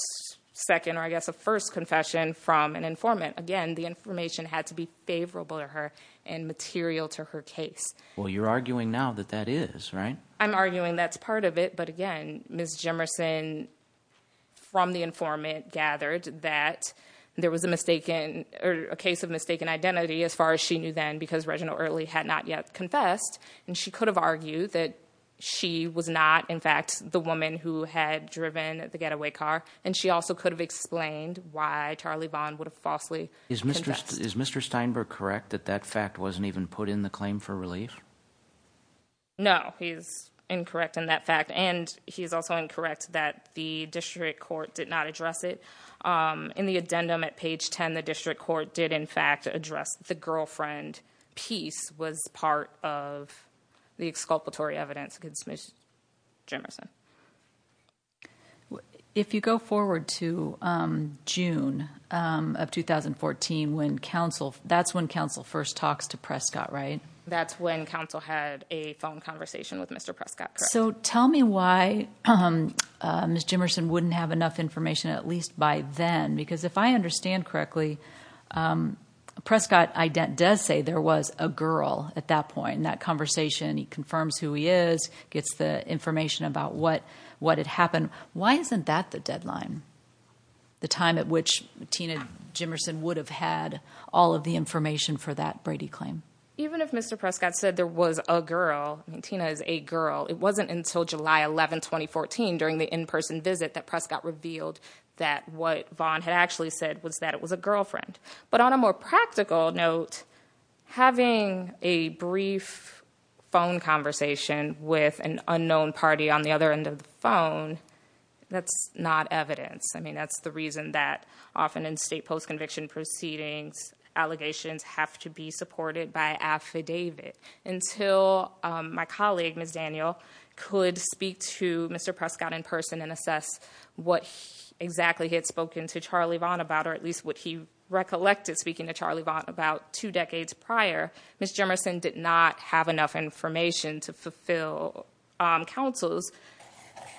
second or I guess a first confession from an informant. Again, the information had to be favorable to her and material to her case. Well, you're arguing now that that is, right? I'm arguing that's part of it, but again, Ms. Jemerson, from the informant, gathered that there was a case of mistaken identity as far as she knew then, because Reginald Shirley had not yet confessed, and she could have argued that she was not, in fact, the woman who had driven the getaway car, and she also could have explained why Charlie Bond would have falsely confessed. Is Mr. Steinberg correct that that fact wasn't even put in the claim for relief? No, he's incorrect in that fact, and he's also incorrect that the district court did not address it. In the addendum at page 10, the district court did, in fact, address the girlfriend piece was part of the exculpatory evidence against Ms. Jemerson. If you go forward to June of 2014, that's when counsel first talked to Prescott, right? That's when counsel had a phone conversation with Mr. Prescott, correct? So tell me why Ms. Jemerson wouldn't have enough information at least by then, because if I understand correctly, Prescott does say there was a girl at that point in that conversation. He confirms who he is, gets the information about what had happened. Why isn't that the deadline, the time at which Tina Jemerson would have had all of the information for that Brady claim? Even if Mr. Prescott said there was a girl, Tina is a girl, it wasn't until July 11, 2014, during the in-person visit that Prescott revealed that what Vaughn had actually said was that it was a girlfriend. But on a more practical note, having a brief phone conversation with an unknown party on the other end of the phone, that's not evidence. I mean, that's the reason that often in state post-conviction proceedings, allegations have to be supported by affidavit until my colleague, Ms. Daniel, could speak to Mr. Prescott in person and assess what exactly he had spoken to Charlie Vaughn about, or at least what he recollected speaking to Charlie Vaughn about two decades prior, Ms. Jemerson did not have enough information to fulfill counsel's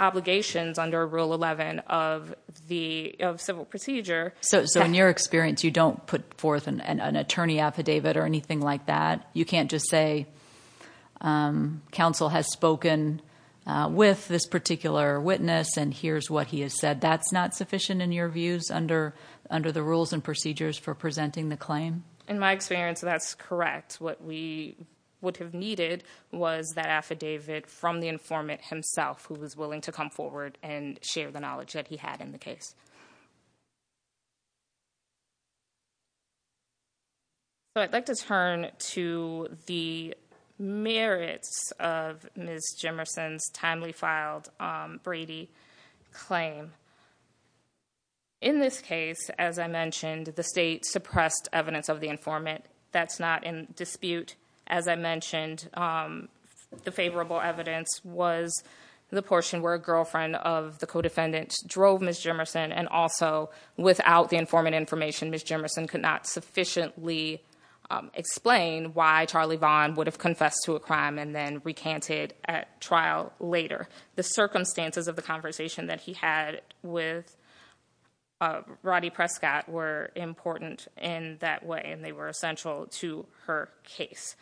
obligations under Rule 11 of the Civil Procedure. So in your experience, you don't put forth an attorney affidavit or anything like that? You can't just say, counsel has spoken with this particular witness and here's what he has said. That's not sufficient in your views under the rules and procedures for presenting the claim? In my experience, that's correct. What we would have needed was that affidavit from the informant himself who was willing to come forward and share the knowledge that he had in the case. So I'd like to turn to the merits of Ms. Jemerson's timely filed Brady claim. In this case, as I mentioned, the state suppressed evidence of the informant. That's not in dispute. As I mentioned, the favorable evidence was the portion where a girlfriend of the co-defendant drove Ms. Jemerson and also without the informant information, Ms. Jemerson could not sufficiently explain why Charlie Vaughn would have confessed to a crime and then recanted at trial later. The circumstances of the conversation that he had with Rodney Prescott were important in that way and they were essential to her case.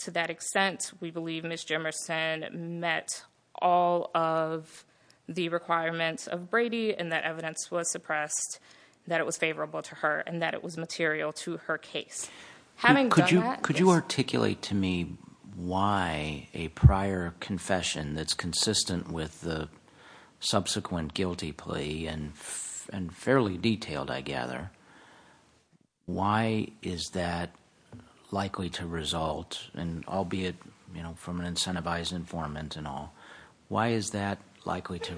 To that extent, we believe Ms. Jemerson met all of the requirements of Brady and that evidence was suppressed that it was favorable to her and that it was material to her case. Could you articulate to me why a prior confession that's consistent with the subsequent guilty plea and fairly detailed, I gather, why is that likely to result, albeit from an incentivized informant and all, why is that likely to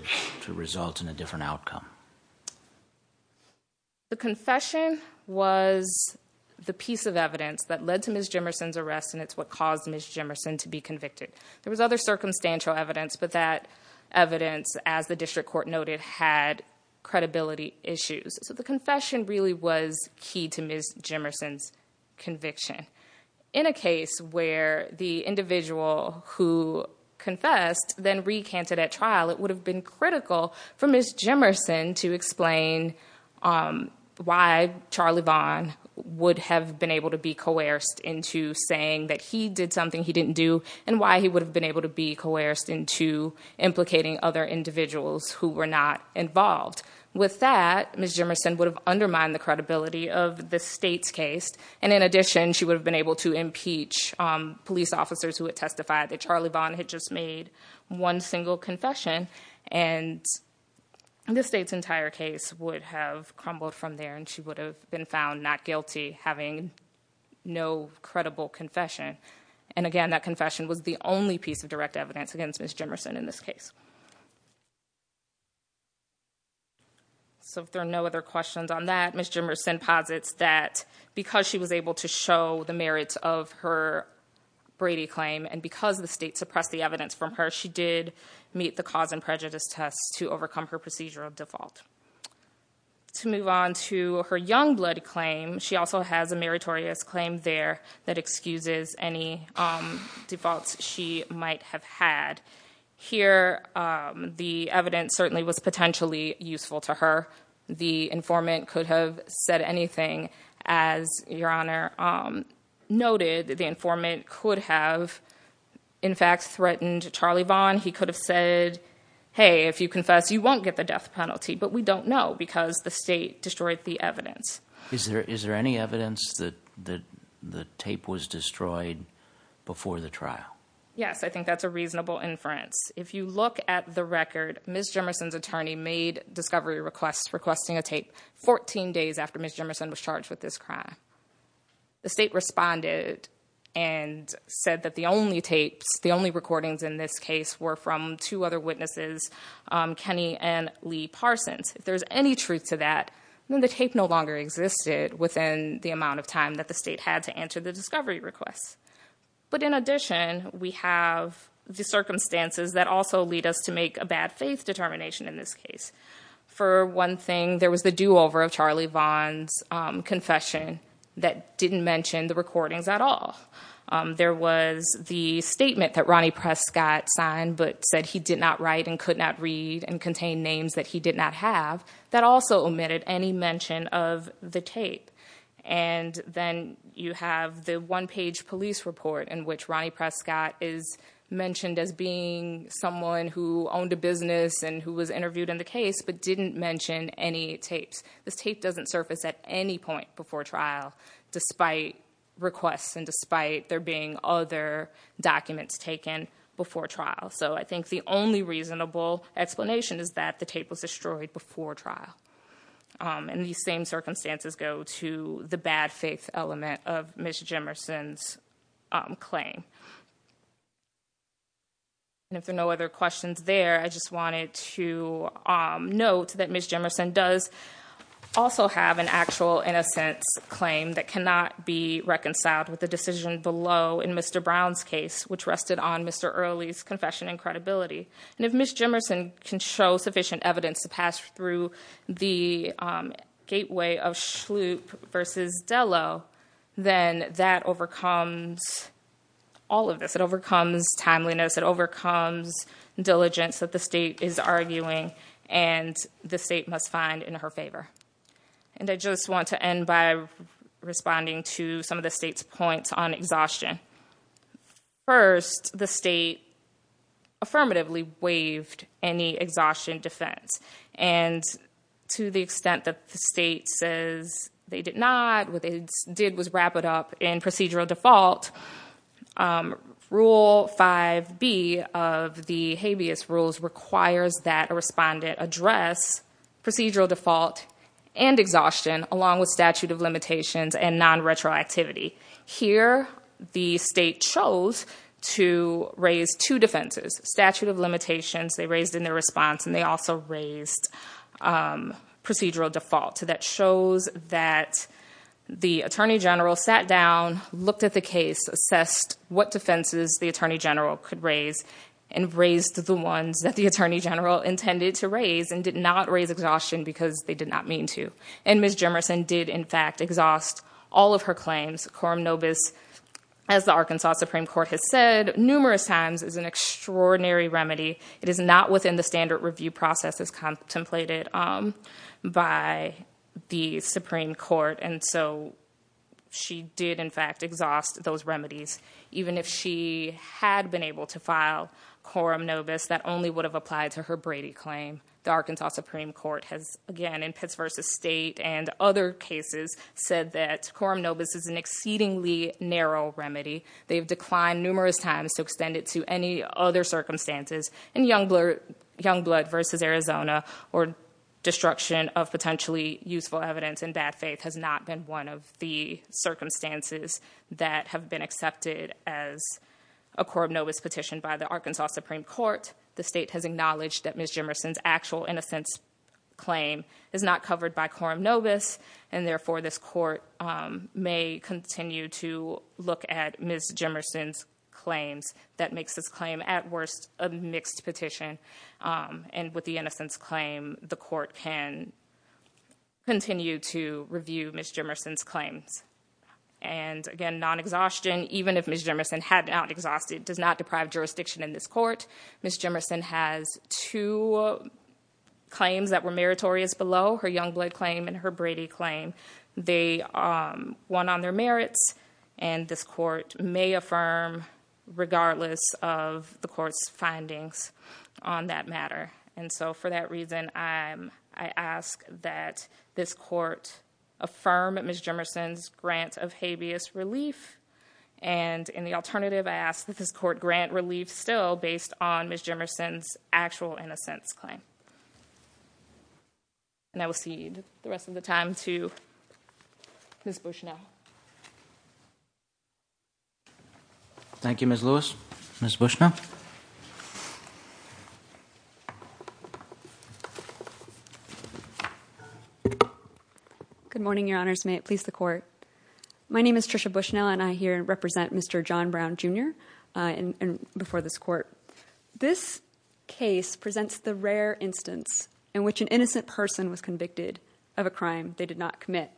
result in a different outcome? The confession was the piece of evidence that led to Ms. Jemerson's arrest and it's what caused Ms. Jemerson to be convicted. There was other circumstantial evidence, but that evidence, as the district court noted, had credibility issues. The confession really was key to Ms. Jemerson's conviction. In a case where the individual who confessed then recanted at trial, it would have been critical for Ms. Jemerson to explain why Charlie Vaughn would have been able to be coerced into saying that he did something he didn't do and why he would have been able to be coerced into implicating other individuals who were not involved. With that, Ms. Jemerson would have undermined the credibility of the state's case and, in addition, she would have been able to impeach police officers who had testified that Charlie Vaughn had just made one single confession and the state's entire case would have crumbled from there and she would have been found not guilty, having no credible confession. And again, that confession was the only piece of direct evidence against Ms. Jemerson in this case. So if there are no other questions on that, Ms. Jemerson posits that because she was able to show the merits of her Brady claim and because the state suppressed the evidence from her, she did meet the cause and prejudice test to overcome her procedure of default. To move on to her Youngblood claim, she also has a meritorious claim there that excuses any defaults she might have had. Here, the evidence certainly was potentially useful to her. The informant could have said anything, as Your Honor noted, the informant could have, in fact, threatened Charlie Vaughn. He could have said, hey, if you confess, you won't get the death penalty, but we don't know because the state destroyed the evidence. Is there any evidence that the tape was destroyed before the trial? Yes, I think that's a reasonable inference. If you look at the record, Ms. Jemerson's attorney made discovery requests requesting a tape 14 days after Ms. Jemerson was charged with this crime. The state responded and said that the only recordings in this case were from two other witnesses, Kenny and Lee Parsons. If there's any truth to that, then the tape no longer existed within the amount of time that the state had to answer the discovery request. But in addition, we have the circumstances that also lead us to make a bad faith determination in this case. For one thing, there was the do-over of Charlie Vaughn's confession that didn't mention the recordings at all. There was the statement that Ronnie Prescott signed but said he did not write and could not read and contain names that he did not have that also omitted any mention of the tape. And then you have the one-page police report in which Ronnie Prescott is mentioned as being someone who owned a business and who was interviewed in the case but didn't mention any tapes. This tape doesn't surface at any point before trial despite requests and despite there being other documents taken before trial. So I think the only reasonable explanation is that the tape was destroyed before trial. And these same circumstances go to the bad faith element of Ms. Jemerson's claim. And if there are no other questions there, I just wanted to note that Ms. Jemerson does also have an actual innocent claim that cannot be reconciled with the decision below in Mr. Brown's case which rested on Mr. Early's confession and credibility. And if Ms. Jemerson can show sufficient evidence to pass through the gateway of Schlup versus Zello, then that overcomes all of this. It overcomes timeliness. It overcomes diligence that the state is arguing and the state must find in her favor. And I just want to end by responding to some of the state's points on exhaustion. First, the state affirmatively waived any exhaustion defense. And to the extent that the state says they did not, what they did was wrap it up in procedural default. Rule 5B of the habeas rules requires that a respondent address procedural default and exhaustion along with statute of limitations and nonretroactivity. Here the state chose to raise two defenses, statute of limitations they raised in their response and they also raised procedural default. So that shows that the attorney general sat down, looked at the case, assessed what defenses the attorney general could raise, and raised the ones that the attorney general intended to raise and did not raise exhaustion because they did not mean to. And Ms. Jemerson did, in fact, exhaust all of her claims. Quorum nobis, as the Arkansas Supreme Court has said numerous times, is an extraordinary remedy. It is not within the standard review process as contemplated by the Supreme Court. And so she did, in fact, exhaust those remedies. Even if she had been able to file quorum nobis, that only would have applied to her Brady claim. The Arkansas Supreme Court has, again, in Pitts v. State and other cases, said that quorum nobis is an exceedingly narrow remedy. They've declined numerous times to extend it to any other circumstances. And Youngblood v. Arizona or destruction of potentially useful evidence in bad faith has not been one of the circumstances that have been accepted as a quorum nobis petition by the Arkansas Supreme Court. The state has acknowledged that Ms. Jemerson's actual innocence claim is not covered by quorum Jemerson's claim. That makes this claim, at worst, a mixed petition. And with the innocence claim, the court can continue to review Ms. Jemerson's claim. And again, non-exhaustion, even if Ms. Jemerson had not exhausted, does not deprive jurisdiction in this court. Ms. Jemerson has two claims that were meritorious below, her Youngblood claim and her Brady claim. They won on their merit. And this court may affirm, regardless of the court's findings on that matter. And so for that reason, I ask that this court affirm Ms. Jemerson's grant of habeas relief. And in the alternative, I ask that this court grant relief still based on Ms. Jemerson's actual innocence claim. And I will cede the rest of the time to Ms. Bushnell. Thank you, Ms. Lewis. Ms. Bushnell. Good morning, Your Honors. May it please the court. My name is Tricia Bushnell, and I here represent Mr. John Brown, Jr., before this court. This case presents the rare instance in which an innocent person was convicted of a crime they did not commit.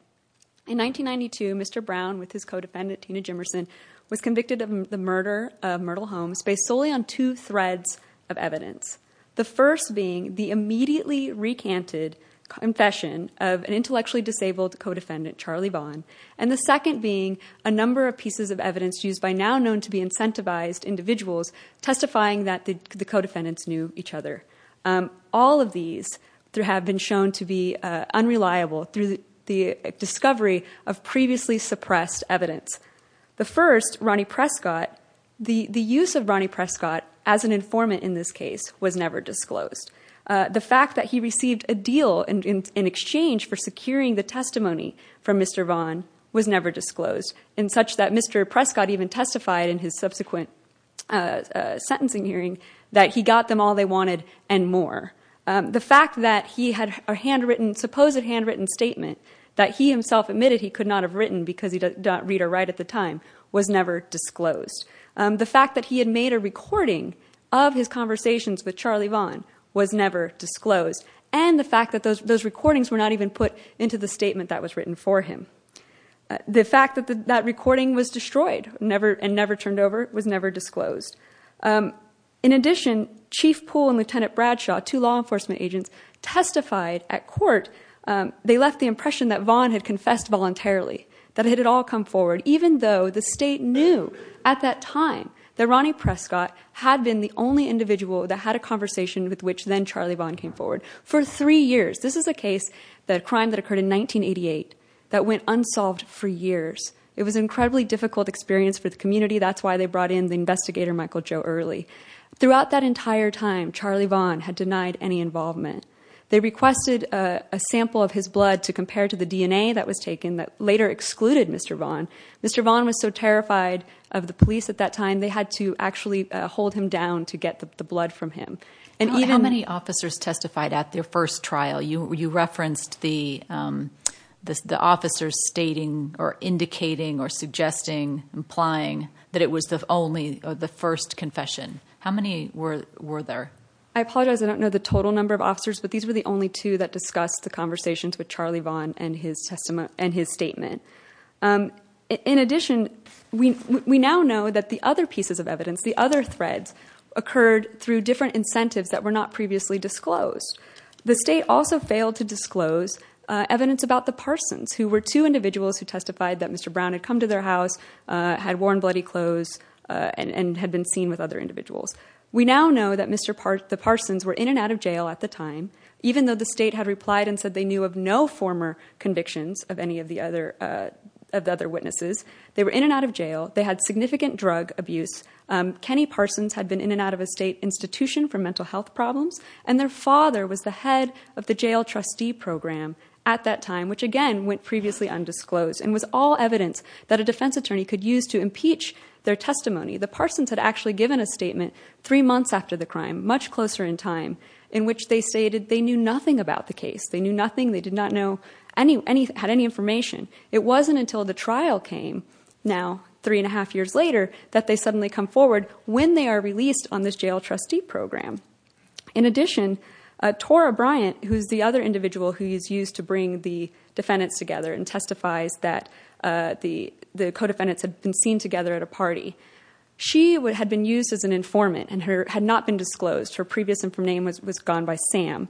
In 1992, Mr. Brown, with his co-defendant Tina Jemerson, was convicted of the murder of Myrtle Holmes based solely on two threads of evidence. The first being the immediately recanted confession of an intellectually disabled co-defendant, Charlie Vaughn. And the second being a number of pieces of evidence used by now known to be incentivized individuals testifying that the co-defendants knew each other. All of these have been shown to be unreliable through the discovery of previously suppressed evidence. The first, Ronnie Prescott, the use of Ronnie Prescott as an informant in this case was never disclosed. The fact that he received a deal in exchange for securing the testimony from Mr. Vaughn was never disclosed. In such that Mr. Prescott even testified in his subsequent sentencing hearing that he got them all they wanted and more. The fact that he had a handwritten, supposed handwritten statement that he himself admitted he could not have written because he did not read or write at the time was never disclosed. The fact that he had made a recording of his conversations with Charlie Vaughn was never disclosed. And the fact that those recordings were not even put into the statement that was written for him. The fact that that recording was destroyed and never turned over was never disclosed. In addition, Chief Poole and Lieutenant Bradshaw, two law enforcement agents testified at court, they left the impression that Vaughn had confessed voluntarily, that it had all come forward even though the state knew at that time that Ronnie Prescott had been the only individual that had a conversation with which then Charlie Vaughn came forward for three years. This is a case, the crime that occurred in 1988 that went unsolved for years. It was incredibly difficult experience for the community. That's why they brought in the investigator Michael Joe Early. Throughout that entire time, Charlie Vaughn had denied any involvement. They requested a sample of his blood to compare to the DNA that was taken that later excluded Mr. Vaughn. Mr. Vaughn was so terrified of the police at that time, they had to actually hold him down to get the blood from him. And how many officers testified at their first trial? You referenced the officers stating or indicating or suggesting, implying that it was only the first confession. How many were there? I apologize. I don't know the total number of officers, but these were the only two that discussed the conversations with Charlie Vaughn and his statement. In addition, we now know that the other pieces of evidence, the other threads occurred through different incentives that were not previously disclosed. The state also failed to disclose evidence about the Parsons, who were two individuals who testified that Mr. Brown had come to their house, had worn bloody clothes, and had been seen with other individuals. We now know that Mr. Parsons were in and out of jail at the time, even though the state had replied and said they knew of no former convictions of any of the other witnesses. They were in and out of jail. They had significant drug abuse. Kenny Parsons had been in and out of a state institution for mental health problems, and their father was the head of the jail trustee program at that time, which, again, went previously undisclosed. And with all evidence that a defense attorney could use to impeach their testimony, the Parsons had actually given a statement three months after the crime, much closer in time, in which they stated they knew nothing about the case. They knew nothing. They did not have any information. It wasn't until the trial came, now three and a half years later, that they suddenly come forward when they are released on this jail trustee program. In addition, Tora Bryant, who is the other individual who is used to bring the defendants together and testifies that the co-defendants had been seen together at a party, she had been used as an informant, and had not been disclosed. Her previous name was gone by Sam.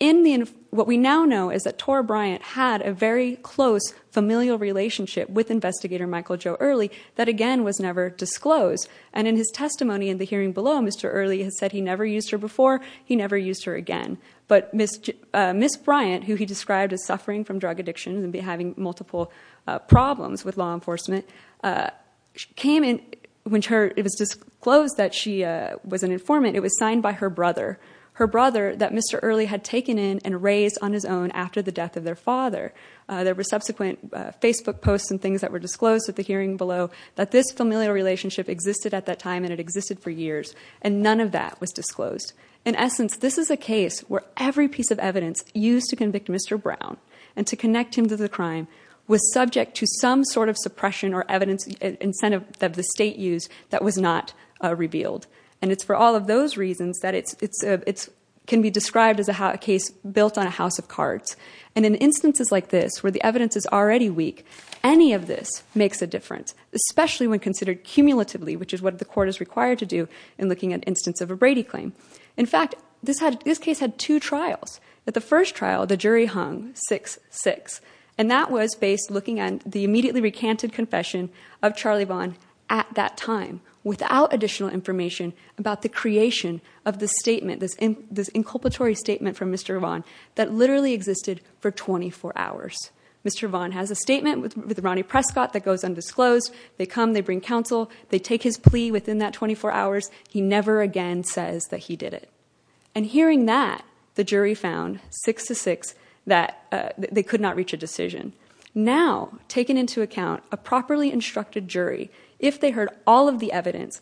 In what we now know is that Tora Bryant had a very close familial relationship with Investigator Michael Joe Early that, again, was never disclosed. And in his testimony in the hearing below, Mr. Early said he never used her before. He never used her again. But Ms. Bryant, who he described as suffering from drug addiction and having multiple problems with law enforcement, when it was disclosed that she was an informant, it was signed by her brother. Her brother that Mr. Early had taken in and raised on his own after the death of their father. There were subsequent Facebook posts and things that were disclosed at the hearing below that this familial relationship existed at that time, and it existed for years. And none of that was disclosed. In essence, this is a case where every piece of evidence used to convict Mr. Brown and to connect him to the crime was subject to some sort of suppression or evidence incentive that the state used that was not revealed. And it's for all of those reasons that it can be described as a case built on a house of cards. And in instances like this, where the evidence is already weak, any of this makes a difference, especially when considered cumulatively, which is what the court is required to do in looking at an instance of a Brady claim. In fact, this case had two trials. At the first trial, the jury hung 6-6, and that was based looking at the immediately recanted confession of Charlie Vaughn at that time without additional information about the creation of this statement, this inculpatory statement from Mr. Vaughn that literally existed for 24 hours. Mr. Vaughn has a statement with Ronnie Prescott that goes undisclosed. They come. They bring counsel. They take his plea within that 24 hours. He never again says that he did it. And hearing that, the jury found 6-6 that they could not reach a decision. Now, taking into account a properly instructed jury, if they heard all of the evidence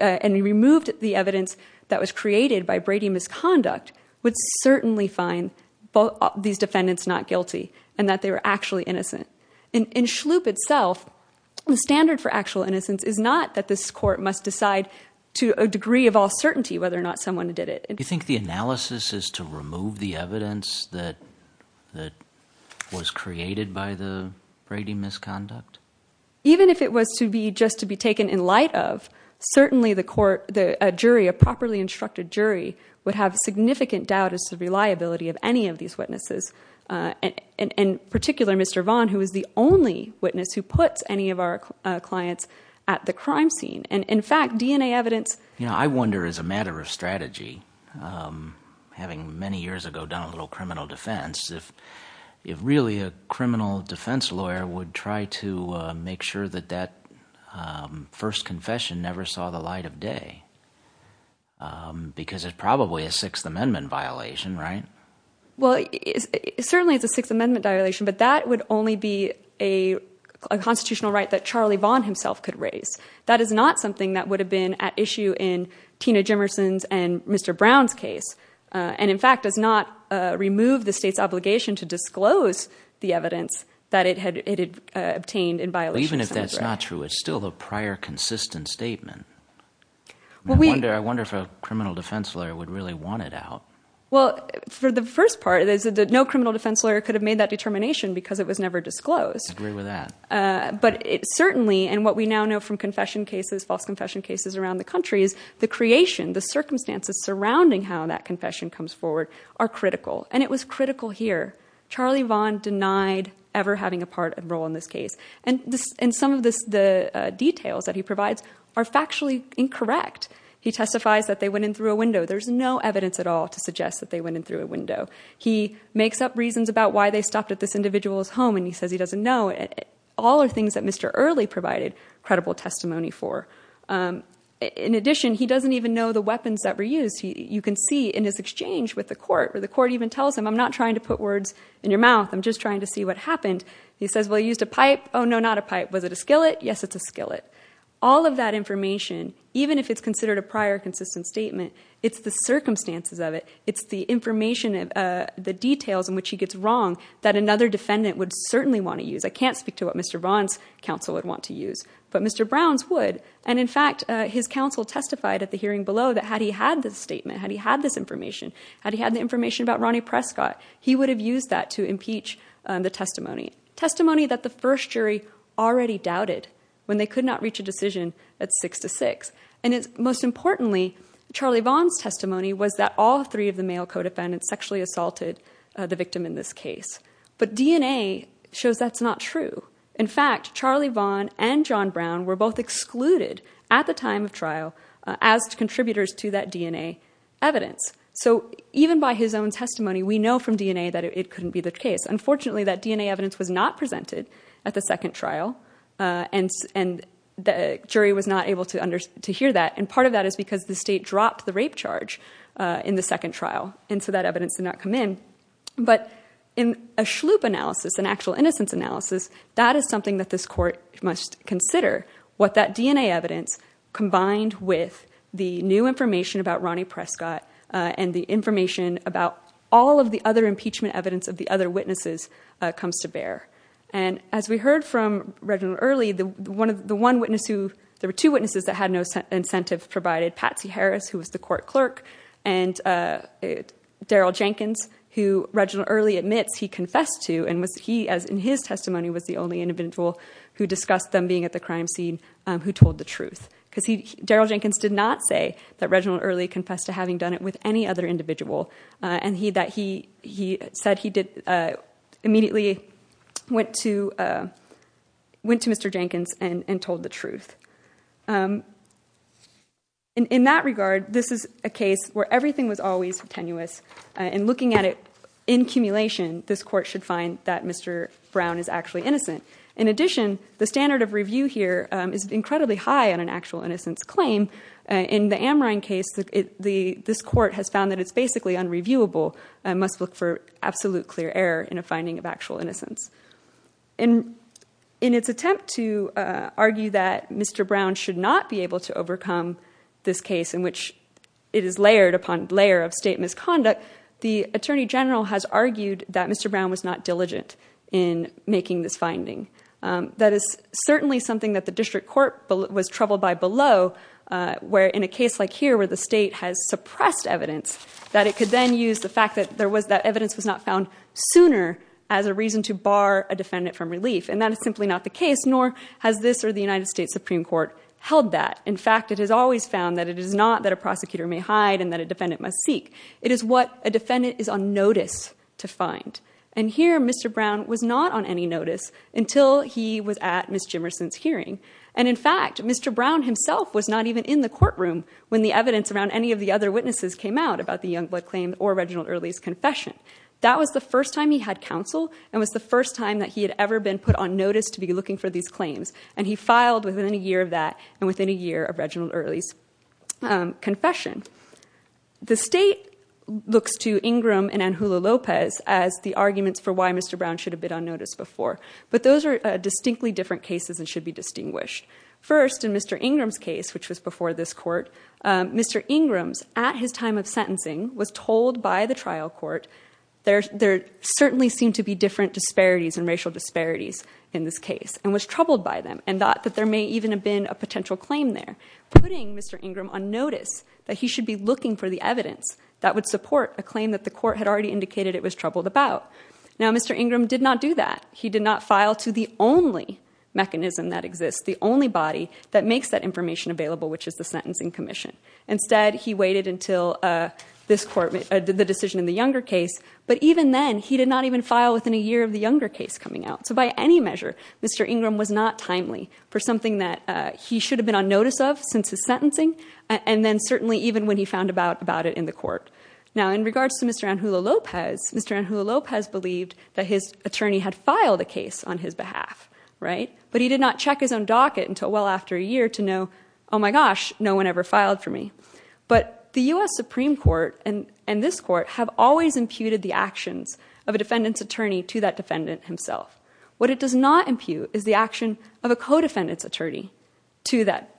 and removed the evidence that was created by Brady misconduct, would certainly find these defendants not guilty and that they were actually innocent. In Schlup itself, the standard for actual innocence is not that this court must decide to a degree of all certainty whether or not someone did it. You think the analysis is to remove the evidence that was created by the Brady misconduct? Even if it was to be just to be taken in light of, certainly the court, a jury, a properly instructed jury would have significant doubt as to the reliability of any of these witnesses, in particular, Mr. Vaughn, who is the only witness who puts any of our clients at the crime scene. And in fact, DNA evidence... I wonder, as a matter of strategy, having many years ago done a little criminal defense, if really a criminal defense lawyer would try to make sure that that first confession never saw the light of day, because it's probably a Sixth Amendment violation, right? Well, it certainly is a Sixth Amendment violation, but that would only be a constitutional right that Charlie Vaughn himself could raise. That is not something that would have been at issue in Tina Jemison's and Mr. Brown's case. And in fact, does not remove the state's obligation to disclose the evidence that it had obtained in violation. Even if that's not true, it's still the prior consistent statement. I wonder if a criminal defense lawyer would really want it out. Well, for the first part, no criminal defense lawyer could have made that determination because it was never disclosed. I agree with that. But it certainly, and what we now know from confession cases, false confession cases around the country, is the creation, the circumstances surrounding how that confession comes forward are critical. And it was critical here. Charlie Vaughn denied ever having a part and role in this case. And some of the details that he provides are factually incorrect. He testifies that they went in through a window. There's no evidence at all to suggest that they went in through a window. He makes up reasons about why they stopped at this individual's home, and he says he doesn't know. All are things that Mr. Early provided credible testimony for. In addition, he doesn't even know the weapons that were used. You can see in his exchange with the court, where the court even tells him, I'm not trying to put words in your mouth. I'm just trying to see what happened. He says, well, he used a pipe. Oh, no, not a pipe. Was it a skillet? Yes, it's a skillet. All of that information, even if it's considered a prior consistent statement, it's the circumstances of it. It's the information, the details in which he gets wrong that another defendant would certainly want to use. I can't speak to what Mr. Vaughn's counsel would want to use, but Mr. Brown's would. And in fact, his counsel testified at the hearing below that had he had this statement, had he had this information, had he had the information about Ronnie Prescott, he would have used that to impeach the testimony. Testimony that the first jury already doubted when they could not reach a decision at six to six. And most importantly, Charlie Vaughn's testimony was that all three of the male co-defendants sexually assaulted the victim in this case. But DNA shows that's not true. In fact, Charlie Vaughn and John Brown were both excluded at the time of trial as contributors to that DNA evidence. So even by his own testimony, we know from DNA that it couldn't be the case. Unfortunately, that DNA evidence was not presented at the second trial, and the jury was not able to hear that. And part of that is because the state dropped the rape charge in the second trial, and so that evidence did not come in. But in a SHLOOP analysis, an actual innocence analysis, that is something that this court must consider, what that DNA evidence combined with the new information about Ronnie Prescott and the information about all of the other impeachment evidence of the other witnesses comes to bear. And as we heard from Reverend Early, the one witness who, there were two witnesses that had no incentives provided, Patsy Harris, who was the court clerk, and Daryl Jenkins, who Reginald Early admits he confessed to, and he, in his testimony, was the only individual who discussed them being at the crime scene who told the truth. Because Daryl Jenkins did not say that Reginald Early confessed to having done it with any other individual, and that he said he immediately went to Mr. Jenkins and told the truth. In that regard, this is a case where everything was always tenuous, and looking at it in cumulation, this court should find that Mr. Brown is actually innocent. In addition, the standard of review here is incredibly high on an actual innocence claim. In the Amrine case, this court has found that it's basically unreviewable and must look for absolute clear error in a finding of actual innocence. And in its attempt to argue that Mr. Brown should not be able to overcome this case, in which it is layered upon layer of state misconduct, the attorney general has argued that Mr. Brown was not diligent in making this finding. That is certainly something that the district court was troubled by below, where in a case like here, where the state has suppressed evidence, that it could then use the fact that evidence was not found sooner as a reason to bar a defendant from relief. And that is simply not the case, nor has this or the United States Supreme Court held that. In fact, it has always found that it is not that a prosecutor may hide and that a defendant must seek. It is what a defendant is on notice to find. And here, Mr. Brown was not on any notice until he was at Ms. Jimmerson's hearing. And in fact, Mr. Brown himself was not even in the courtroom when the evidence around any of the other witnesses came out about the Youngblood claim or Reginald Early's confession. That was the first time he had counsel and was the first time that he had ever been put on notice to be looking for these claims. And he filed within a year of that and within a year of Reginald Early's confession. The state looks to Ingram and Anjula Lopez as the arguments for why Mr. Brown should have been on notice before. But those are distinctly different cases and should be distinguished. First, in Mr. Ingram's case, which was before this court, Mr. Ingram, at his time of sentencing, was told by the trial court there certainly seemed to be different disparities and racial disparities in this case and was troubled by them and thought that there may even have been a potential claim there. Putting Mr. Ingram on notice that he should be looking for the evidence that would support a claim that the court had already indicated it was troubled about. Now, Mr. Ingram did not do that. He did not file to the only mechanism that exists, the only body that makes that information available, which is the Sentencing Commission. Instead, he waited until the decision in the younger case. But even then, he did not even file within a year of the younger case coming out. So by any measure, Mr. Ingram was not timely for something that he should have been on notice of since his sentencing and then certainly even when he found about it in the court. Now, in regards to Mr. Anjula Lopez, Mr. Anjula Lopez believed that his attorney had filed a case on his behalf, right? But he did not check his own docket until well after a year to know, oh my gosh, no one ever filed for me. But the U.S. Supreme Court and this court have always imputed the actions of a defendant's attorney to that defendant himself. What it does not impute is the action of a co-defendant's attorney to that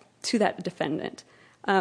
defendant.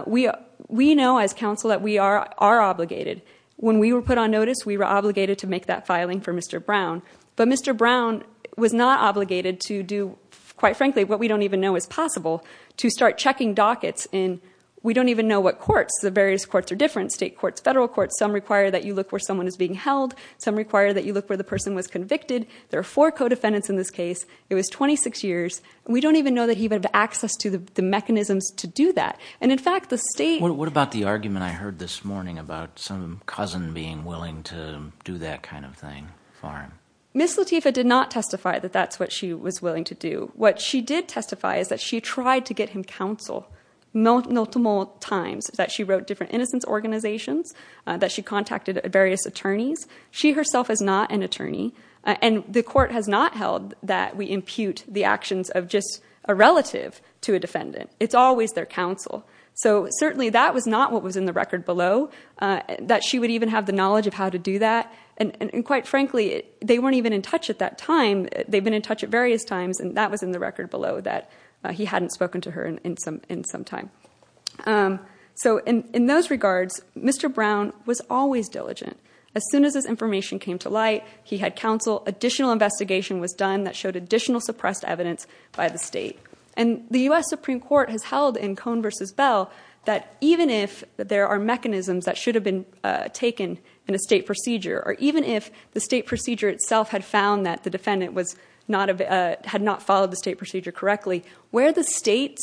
We know as counsel that we are obligated. When we were put on notice, we were obligated to make that filing for Mr. Brown. But Mr. Brown was not obligated to do, quite frankly, what we don't even know is possible, to start checking dockets. And we don't even know what courts. The various courts are different, state courts, federal courts. Some require that you look where someone is being held. Some require that you look where the person was convicted. There are four co-defendants in this case. It was 26 years. We don't even know that he would have access to the mechanisms to do that. And in fact, the state... What about the argument I heard this morning about some cousin being willing to do that kind of thing for him? Ms. Latifa did not testify that that's what she was willing to do. What she did testify is that she tried to get him counsel multiple times, that she wrote different innocence organizations, that she contacted various attorneys. She herself is not an attorney, and the court has not held that we impute the actions of just a relative to a defendant. It's always their counsel. So certainly, that was not what was in the record below, that she would even have the knowledge of how to do that. And quite frankly, they weren't even in touch at that time. They'd been in touch at various times, and that was in the record below, that he hadn't spoken to her in some time. So in those regards, Mr. Brown was always diligent. As soon as this information came to light, he had counsel, additional investigation was done that showed additional suppressed evidence by the state. And the U.S. Supreme Court has held in Cohn v. Bell that even if there are mechanisms that should have been taken in a state procedure, or even if the state procedure itself had found that the defendant had not followed the state procedure correctly, where the state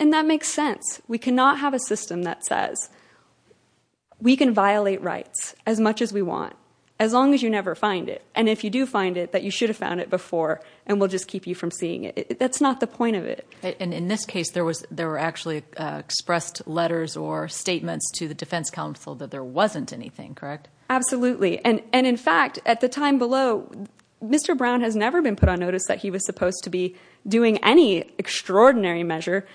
And that makes sense. We cannot have a system that says we can violate rights as much as we want, as long as you never find it. And if you do find it, that you should have found it before, and we'll just keep you from seeing it. That's not the point of it. And in this case, there were actually expressed letters or statements to the defense counsel that there wasn't anything, correct? Absolutely. And in fact, at the time below, Mr. Brown has never been put on notice that he was supposed to be doing any extraordinary measure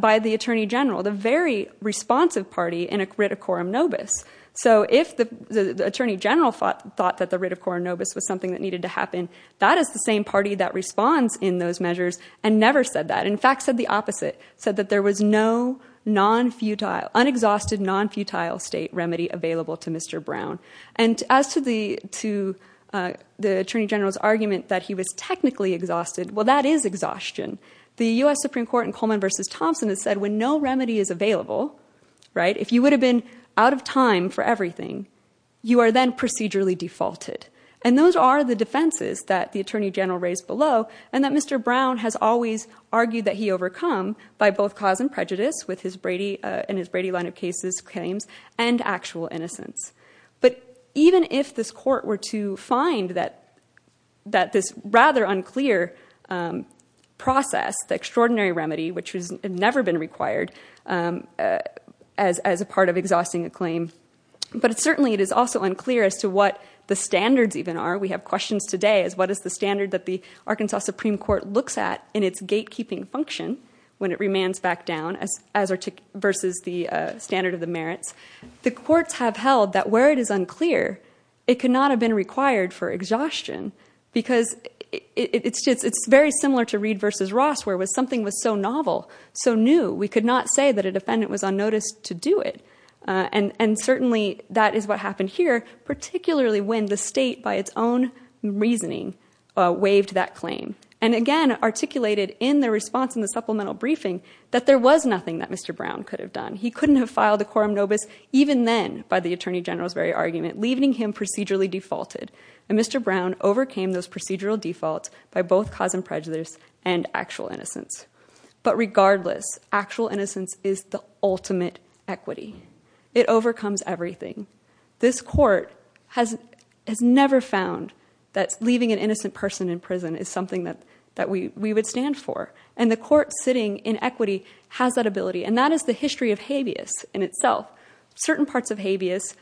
by the attorney general, the very responsive party in a writ of quorum nobis. So if the attorney general thought that the writ of quorum nobis was something that needed to happen, that is the same party that responds in those measures and never said that. In fact, said the opposite, said that there was no non-futile, unexhausted non-futile state remedy available to Mr. Brown. And as to the attorney general's argument that he was technically exhausted, well, that is exhaustion. The U.S. Supreme Court in Coleman v. Thompson has said when no remedy is available, right, if you would have been out of time for everything, you are then procedurally defaulted. And those are the defenses that the attorney general raised below and that Mr. Brown has always argued that he overcome by both cause and prejudice with his Brady and his Brady line of cases claims and actual innocence. But even if this court were to find that this rather unclear process, the extraordinary remedy, which has never been required as a part of exhausting a claim, but certainly it is also unclear as to what the standards even are. We have questions today as what is the standard that the Arkansas Supreme Court looks at in its gatekeeping function when it remands back down versus the standard of the merits. The courts have held that where it is unclear, it cannot have been required for exhaustion because it is very similar to Reed v. Ross where something was so novel, so new, we could not say that a defendant was unnoticed to do it. And certainly that is what happened here, particularly when the state by its own reasoning waived that claim. And again, articulated in the response in the supplemental briefing that there was nothing that Mr. Brown could have done. He could not have filed a quorum nobis even then by the Attorney General's very argument, leaving him procedurally defaulted. And Mr. Brown overcame those procedural defaults by both cause and prejudice and actual innocence. But regardless, actual innocence is the ultimate equity. It overcomes everything. This court has never found that leaving an innocent person in prison is something that we would stand for. And the court sitting in equity has that ability. And that is the history of habeas in itself. Certain parts of habeas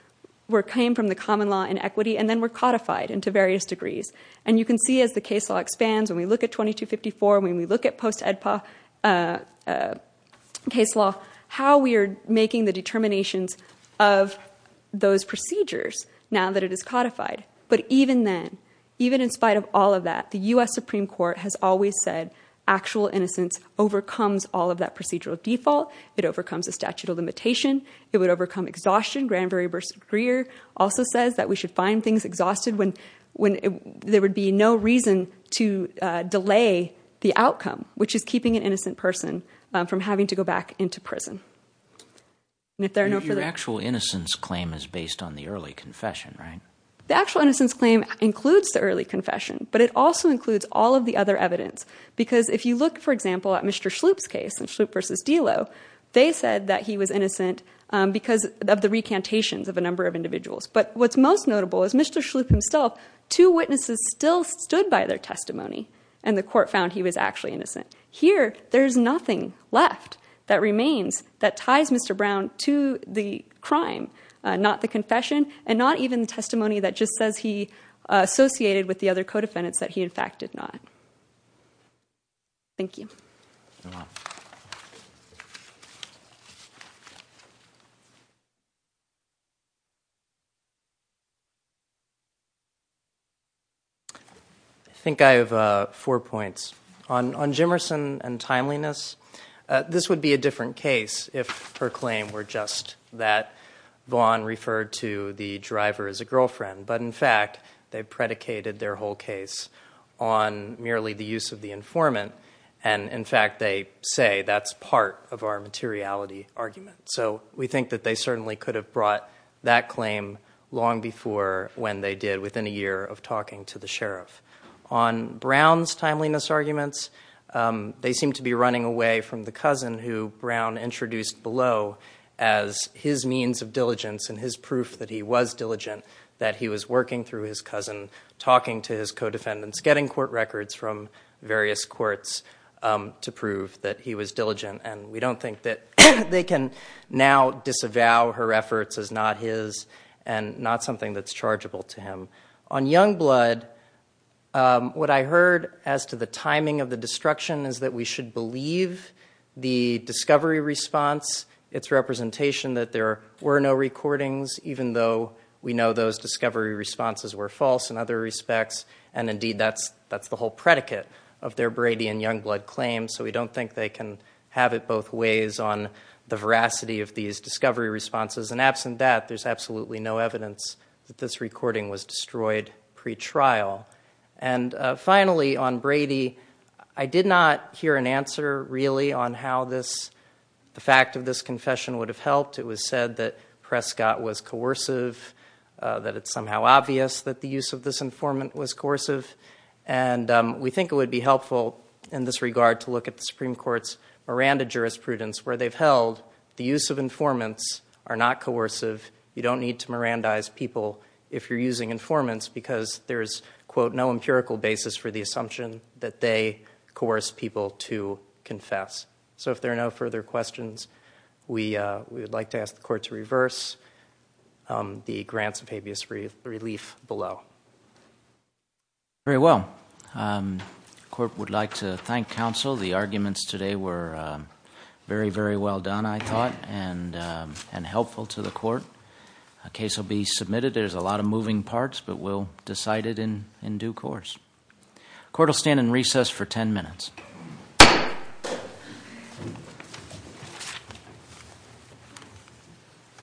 came from the common law in equity and then were codified into various degrees. And you can see as the case law expands, when we look at 2254, when we look at post-EDPA case law, how we are making the determinations of those procedures now that it is codified. But even then, even in spite of all of that, the U.S. Supreme Court has always said actual innocence overcomes all of that procedural default. It overcomes the statute of limitation. It would overcome exhaustion. Granbury v. Greer also says that we should find things exhausted when there would be no reason to delay the outcome, which is keeping an innocent person from having to go back into prison. And if there are no further— Your actual innocence claim is based on the early confession, right? The actual innocence claim includes the early confession, but it also includes all of the other evidence. Because if you look, for example, at Mr. Schlup's case in Schlup v. Delo, they said that he was innocent because of the recantations of a number of individuals. But what's most notable is Mr. Schlup himself, two witnesses still stood by their testimony and the court found he was actually innocent. Here, there's nothing left that remains that ties Mr. Brown to the crime, not the confession, and not even the testimony that just says he associated with the other co-defendants that he in fact did not. Thank you. I think I have four points. On Jimmerson and timeliness, this would be a different case if her claim were just that Vaughn referred to the driver as a girlfriend. But in fact, they predicated their whole case on merely the use of the informant, and in fact, they say that's part of our materiality argument. So we think that they certainly could have brought that claim long before when they did within a year of talking to the sheriff. On Brown's timeliness arguments, they seem to be running away from the cousin who Brown introduced below as his means of diligence and his proof that he was diligent, that he was working through his cousin, talking to his co-defendants, getting court records from various courts to prove that he was diligent, and we don't think that they can now disavow her efforts as not his and not something that's chargeable to him. On Youngblood, what I heard as to the timing of the destruction is that we should believe the discovery response, its representation that there were no recordings, even though we know those discovery responses were false in other respects, and indeed, that's the whole predicate of their Brady and Youngblood claims. So we don't think they can have it both ways on the veracity of these discovery responses. And absent that, there's absolutely no evidence that this recording was destroyed pre-trial. And finally, on Brady, I did not hear an answer really on how the fact of this confession would have helped. It was said that Prescott was coercive, that it's somehow obvious that the use of this informant was coercive, and we think it would be helpful in this regard to look at the Supreme Court's Miranda jurisprudence, where they've held the use of informants are not coercive. You don't need to Mirandize people if you're using informants because there's, quote, no empirical basis for the assumption that they coerce people to confess. So if there are no further questions, we would like to ask the Court to reverse the grants of habeas relief below. Very well. Court would like to thank counsel. The arguments today were very, very well done, I thought, and helpful to the Court. A case will be submitted. There's a lot of moving parts, but we'll decide it in due course. The Court will stand in recess for 10 minutes.